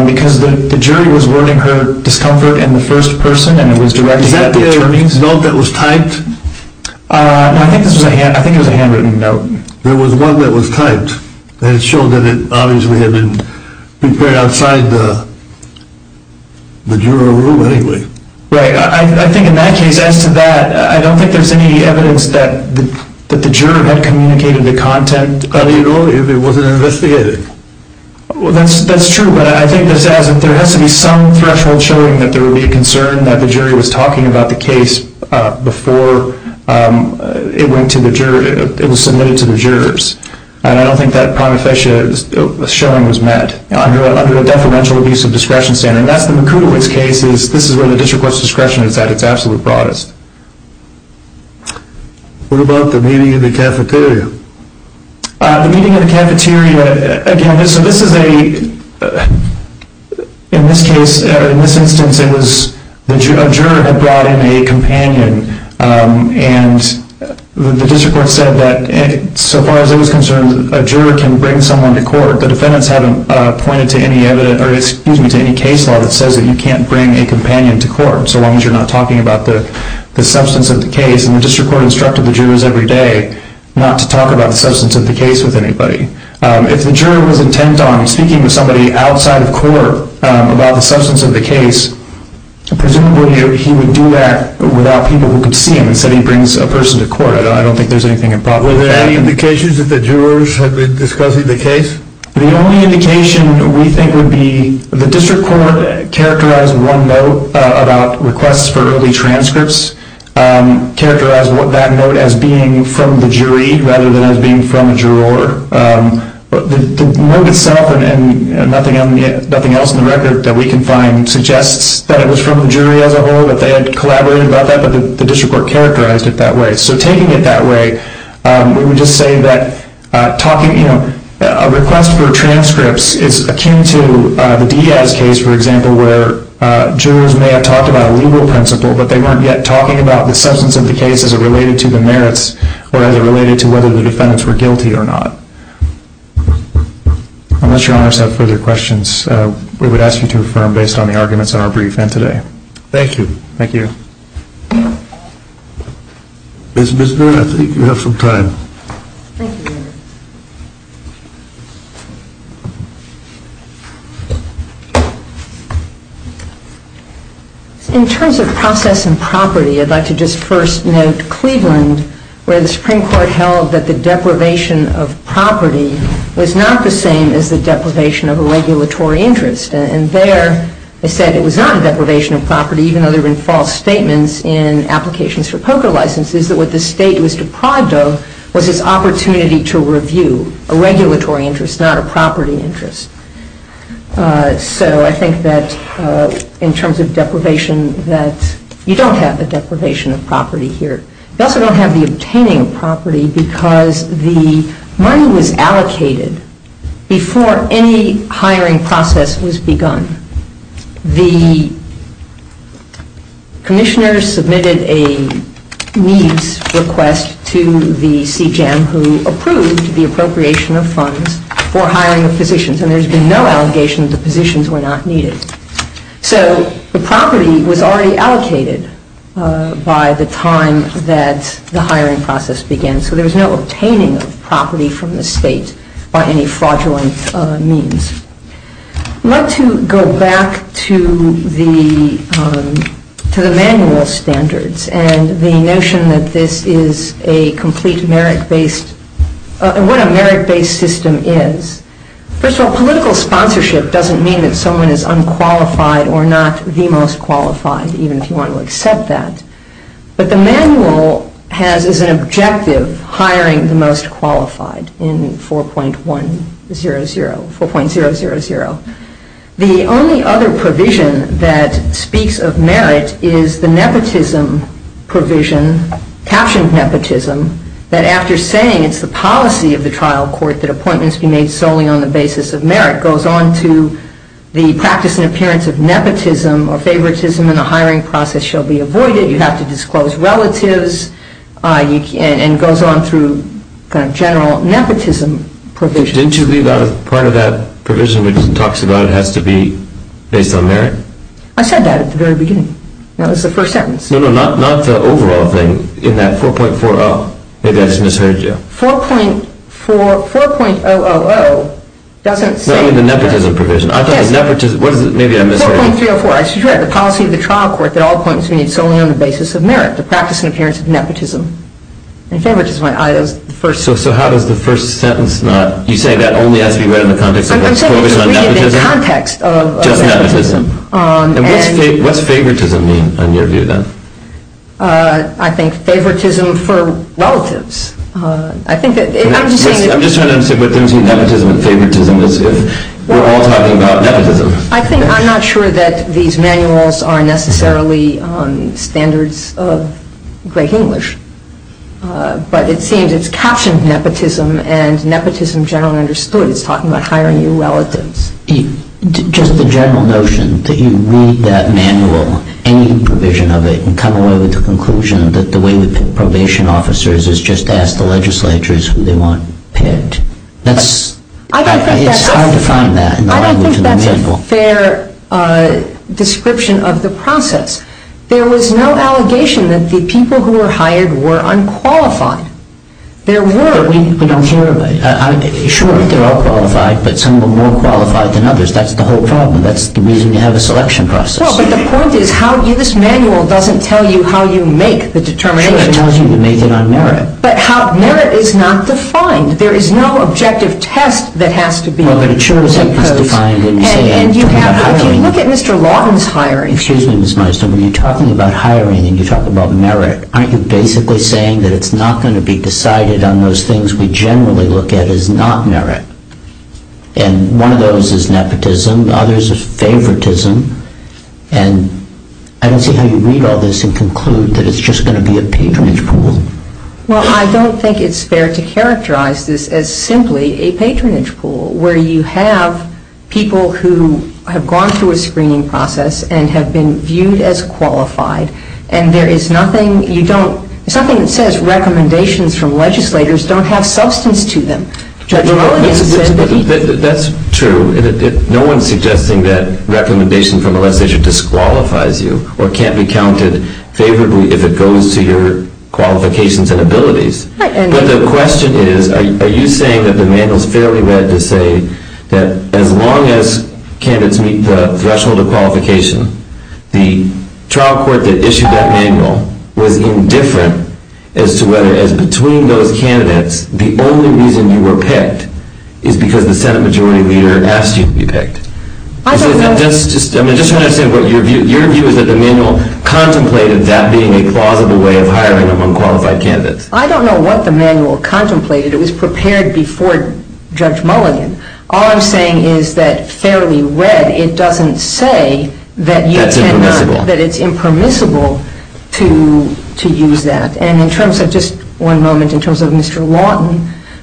because the jury was warning her discomfort in the first person and it was directed at the attorneys. Is that the note that was typed? I think it was a handwritten note. There was one that was typed. It showed that it obviously had been prepared outside the juror room, anyway. Right. I think in my case, as to that, I don't think there's any evidence that the juror had communicated the content illegal if it wasn't investigated. Well, that's true, but I think there has to be some threshold showing that there would be a concern that the jury was talking about the case before it went to the jury—it was submitted to the jurors. I don't think that promissory showing was met under a detrimental abuse of discretion standard. And that's the material of this case. This is where the district court's discretion is at its absolute broadest. What about the meeting in the cafeteria? The meeting in the cafeteria, again, this is a—in this instance, a juror had brought in a companion, and the district court said that, so far as it was concerned, a juror can bring someone to court. The defendants haven't pointed to any other—excuse me, to any case law that says that you can't bring a companion to court, so long as you're not talking about the substance of the case. And the district court instructed the jurors every day not to talk about the substance of the case with anybody. If the juror was intent on speaking with somebody outside of court about the substance of the case, presumably he would do that without people who could see him, so he brings a person to court. Were there any indications that the jurors had been discussing the case? The only indication we think would be the district court characterized one note about requests for early transcripts, characterized that note as being from the jury rather than as being from a juror. The note itself and nothing else in the record that we can find suggests that it was from the jury as a whole, that they had collaborated about that, but the district court characterized it that way. So taking it that way, we would just say that a request for transcripts is akin to the Diaz case, for example, where jurors may have talked about a legal principle, but they weren't yet talking about the substance of the case as it related to the merits or as it related to whether the defendants were guilty or not. Unless your honors have further questions, we would ask you to affirm based on the arguments in our briefing today. Thank you. Thank you. Judge Bisgren, I think you have some time. Thank you. In terms of process and property, I'd like to just first note Cleveland, where the Supreme Court held that the deprivation of property was not the same as the deprivation of a regulatory interest, and there they said it was not a deprivation of property, even though there were false statements in applications for poker licenses, that what the state was deprived of was its opportunity to review a regulatory interest, not a property interest. So I think that in terms of deprivation, that you don't have the deprivation of property here. You also don't have the obtaining of property because the money was allocated before any hiring process was begun. The commissioners submitted a needs request to the CJAM, who approved the appropriation of funds before hiring was sufficient, and there's been no allegation that positions were not needed. So the property was already allocated by the time that the hiring process began, so there's no obtaining of property from the state by any fraudulent means. I'd like to go back to the manual standards and the notion that this is a complete merit-based, what a merit-based system is. First of all, political sponsorship doesn't mean that someone is unqualified or not the most qualified, even if you want to accept that. But the manual has as an objective hiring the most qualified in 4.100, 4.000. The only other provision that speaks of merit is the nepotism provision, captioned nepotism, that after saying it's the policy of the trial court that appointments be made solely on the basis of merit, and that goes on to the practice and appearance of nepotism or favoritism in the hiring process shall be avoided. You have to disclose relatives, and it goes on through kind of general nepotism provisions. Didn't you leave out a part of that provision that talks about it has to be based on merit? I said that at the very beginning. That was the first sentence. No, no, not the overall thing. In that 4.40, maybe I just misheard you. 4.000 doesn't state that. No, it was the nepotism provision. I thought nepotism, maybe I misheard you. 4.304. It says you have the policy of the trial court that all appointments be made solely on the basis of merit, the practice and appearance of nepotism. And favoritism is the first sentence. So how does the first sentence not, you say that only as you read it in the context of favoritism? I'm saying it's reading it in the context of favoritism. And what does favoritism mean in your view, then? I think favoritism for relatives. I'm just trying to say that between nepotism and favoritism, we're all talking about nepotism. I'm not sure that these manuals are necessarily on the standards of great English, but it seems it's captioned nepotism and nepotism generally understood as talking about hiring new relatives. Just the general notion that you read that manual, any provision of it, and come away with a conclusion that the way the probation officers is just ask the legislators who they want picked. That's how I define that. I don't think that's a fair description of the process. There was no allegation that the people who were hired were unqualified. There were. Sure, they're all qualified, but some were more qualified than others. That's the whole problem. That's the reason you have a selection process. Well, but the point is, this manual doesn't tell you how you make the determination. Sure, it tells you to make it on merit. But how? Merit is not defined. There is no objective test that has to be made. No, but it sure is not defined. Look at Mr. Lawton's hiring. Excuse me, Ms. Meister. When you're talking about hiring and you're talking about merit, aren't you basically saying that it's not going to be decided on those things we generally look at as not merit? And one of those is nepotism. Others is favoritism. And I don't see how you read all this and conclude that it's just going to be a patronage pool. Well, I don't think it's fair to characterize this as simply a patronage pool, where you have people who have gone through a screening process and have been viewed as qualified, and there is nothing you don't, there's nothing that says recommendations from legislators don't have substance to them. That's true. No one is suggesting that recommendations from a legislator disqualify you or can't be counted favorably if it goes to your qualifications and abilities. But the question is, are you saying that the manual is fairly read to say that as long as candidates meet the threshold of qualification, the trial court that issued that manual would have been different as to whether, as between those candidates, the only reason you were picked is because the Senate majority leader asked you to be picked? I don't know. I mean, just trying to say, your view is that the manual contemplated that being a plausible way of hiring unqualified candidates. I don't know what the manual contemplated. It was prepared before Judge Mulligan. All I'm saying is that it's fairly read. And it doesn't say that you can't, that it's impermissible to use that. And in terms of, just one moment, in terms of Mr. Lawton,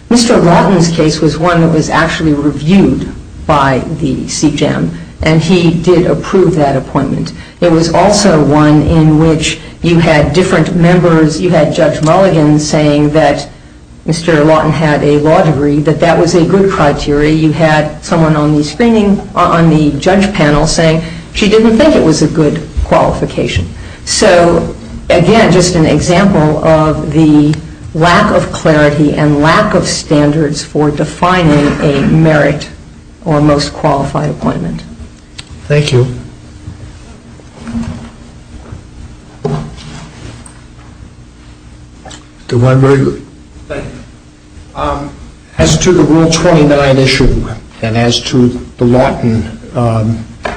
Mr. Lawton's case was one that was actually reviewed by the CGEM, and he did approve that appointment. There was also one in which you had different members, you had Judge Mulligan saying that Mr. Lawton had a lottery, that that was a good criteria. You had someone on the judge panel saying she didn't think it was a good qualification. So, again, just an example of the lack of clarity and lack of standards for defining a merit or most qualified appointment. Thank you. Thank you. Thank you. As to the Rule 29 issue and as to the Lawton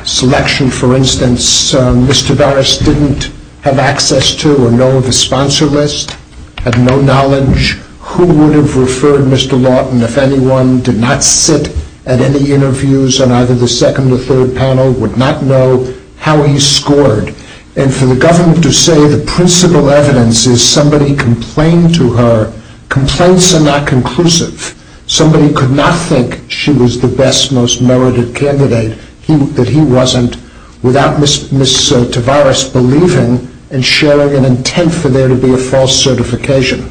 selection, for instance, Mr. Doris didn't have access to or know of a sponsor list, had no knowledge. Who would have referred Mr. Lawton if anyone did not sit at any interviews and either the second or third panel would not know how he scored? And for the government to say the principal evidence is somebody complained to her, complaints are not conclusive. Somebody could not think she was the best, most merited candidate, that he wasn't, without Ms. Tavares believing and sharing an intent for there to be a false certification.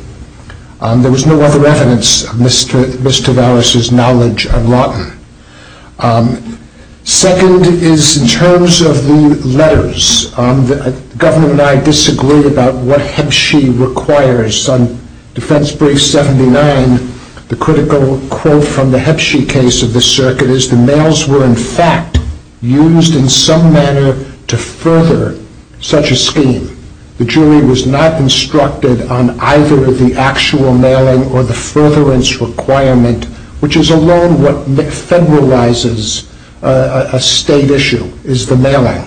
There was no other evidence of Ms. Tavares' knowledge of Lawton. Second is in terms of the letters. The government and I disagreed about what Hep-She requires. On defense brief 79, the critical quote from the Hep-She case of the circuit is, the males were in fact used in some manner to further such a scheme. The jury was not instructed on either the actual mailing or the furtherance requirement, which is a law that federalizes a state issue, is the mailing.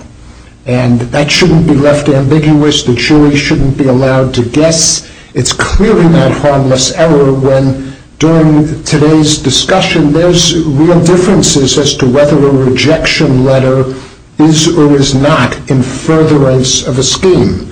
And that shouldn't be left ambiguous. The jury shouldn't be allowed to guess. It's clearly not harmless error when, during today's discussion, there's real differences as to whether a rejection letter is or is not in furtherance of a scheme.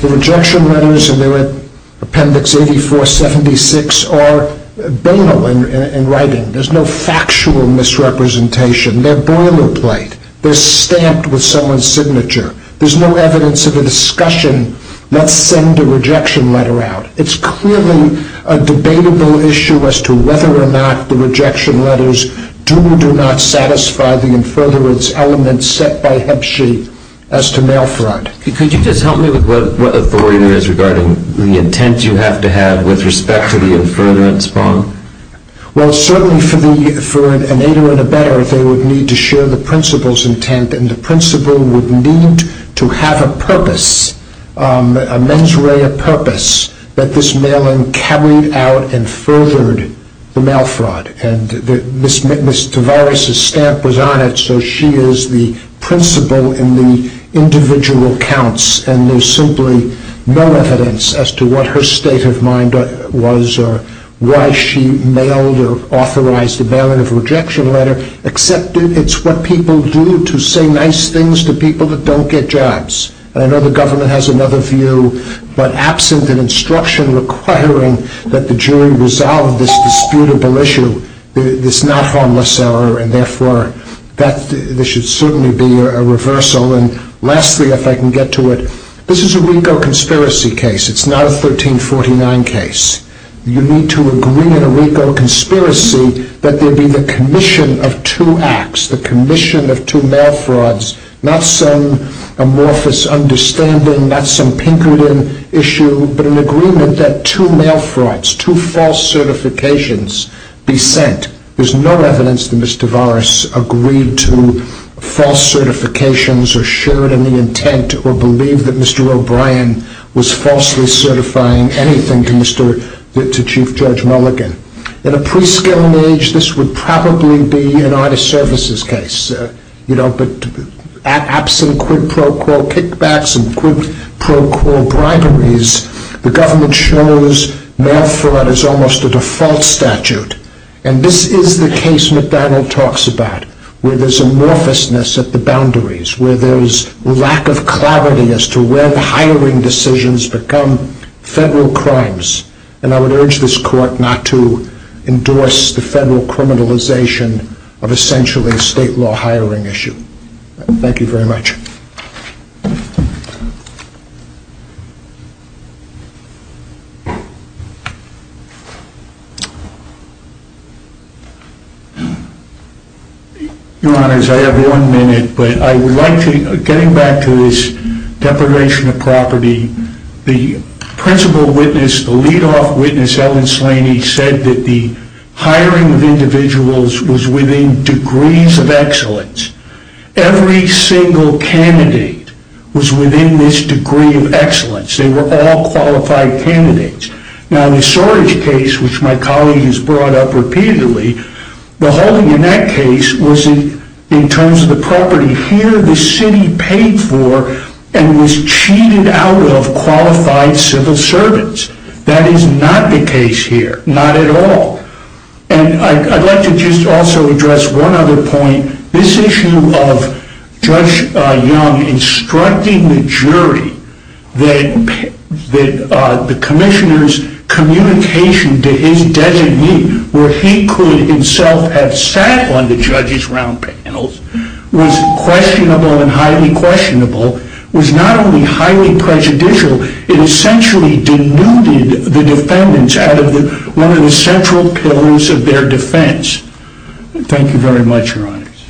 The rejection letters in their appendix 84-76 are banal in writing. There's no factual misrepresentation. They're boilerplate. They're stamped with someone's signature. There's no evidence of a discussion. Let's send a rejection letter out. It's clearly a debatable issue as to whether or not the rejection letters do or do not satisfy the furtherance elements set by Hep-She as to male front. Can you just help me with what authority there is regarding the intent you have to have with respect to the furtherance form? Well, certainly for an 801a better, they would need to share the principal's intent, and the principal would need to have a purpose, a mens rea purpose, that this mailing carried out and furthered the male front. And Ms. Tavares' stamp was on it, so she is the principal in the individual accounts. And there's simply no evidence as to what her state of mind was or why she mailed or authorized the mailing of a rejection letter, except it's what people do to say nice things to people that don't get jobs. I know the government has another view, but absent an instruction requiring that the jury resolve this disputable issue, there's not harmless salary. Therefore, there should certainly be a reversal. And lastly, if I can get to it, this is a legal conspiracy case. It's not a 1349 case. You need to agree in a legal conspiracy that there be the commission of two acts, the commission of two mail frauds. Not some amorphous understanding, not some Pinkerton issue, but an agreement that two mail frauds, two false certifications be sent. There's no evidence that Ms. Tavares agreed to false certifications or shared in the intent or believed that Mr. O'Brien was falsely certifying anything to Chief Judge Mulligan. In a pre-scaling age, this would probably be a United Services case. But absent quid pro quo kickbacks and quid pro quo primaries, the government shows mail fraud as almost a default statute. And this is the case McDonald talks about, where there's amorphousness at the boundaries, where there's lack of clarity as to where the hiring decisions become federal crimes. And I would urge this court not to endorse the federal criminalization of essentially a state law hiring issue. Thank you very much. Your Honors, I have one minute, but I would like to get back to this declaration of property. The principal witness, the lead-off witness, Ellen Slaney, said that the hiring of individuals was within degrees of excellence. Every single candidate was within this degree of excellence. They were all qualified candidates. Now, the Sorich case, which my colleagues brought up repeatedly, the whole in that case was in terms of the property here the city paid for and was cheated out of qualified civil servants. That is not the case here, not at all. And I'd like to just also address one other point. This issue of Judge Young instructing the jury that the commissioner's communication to any designee where he could himself have sat on the judge's round panels was questionable and highly questionable, was not only highly prejudicial, it essentially denuded the defendants out of one of the central pillars of their defense. Thank you very much, Your Honors.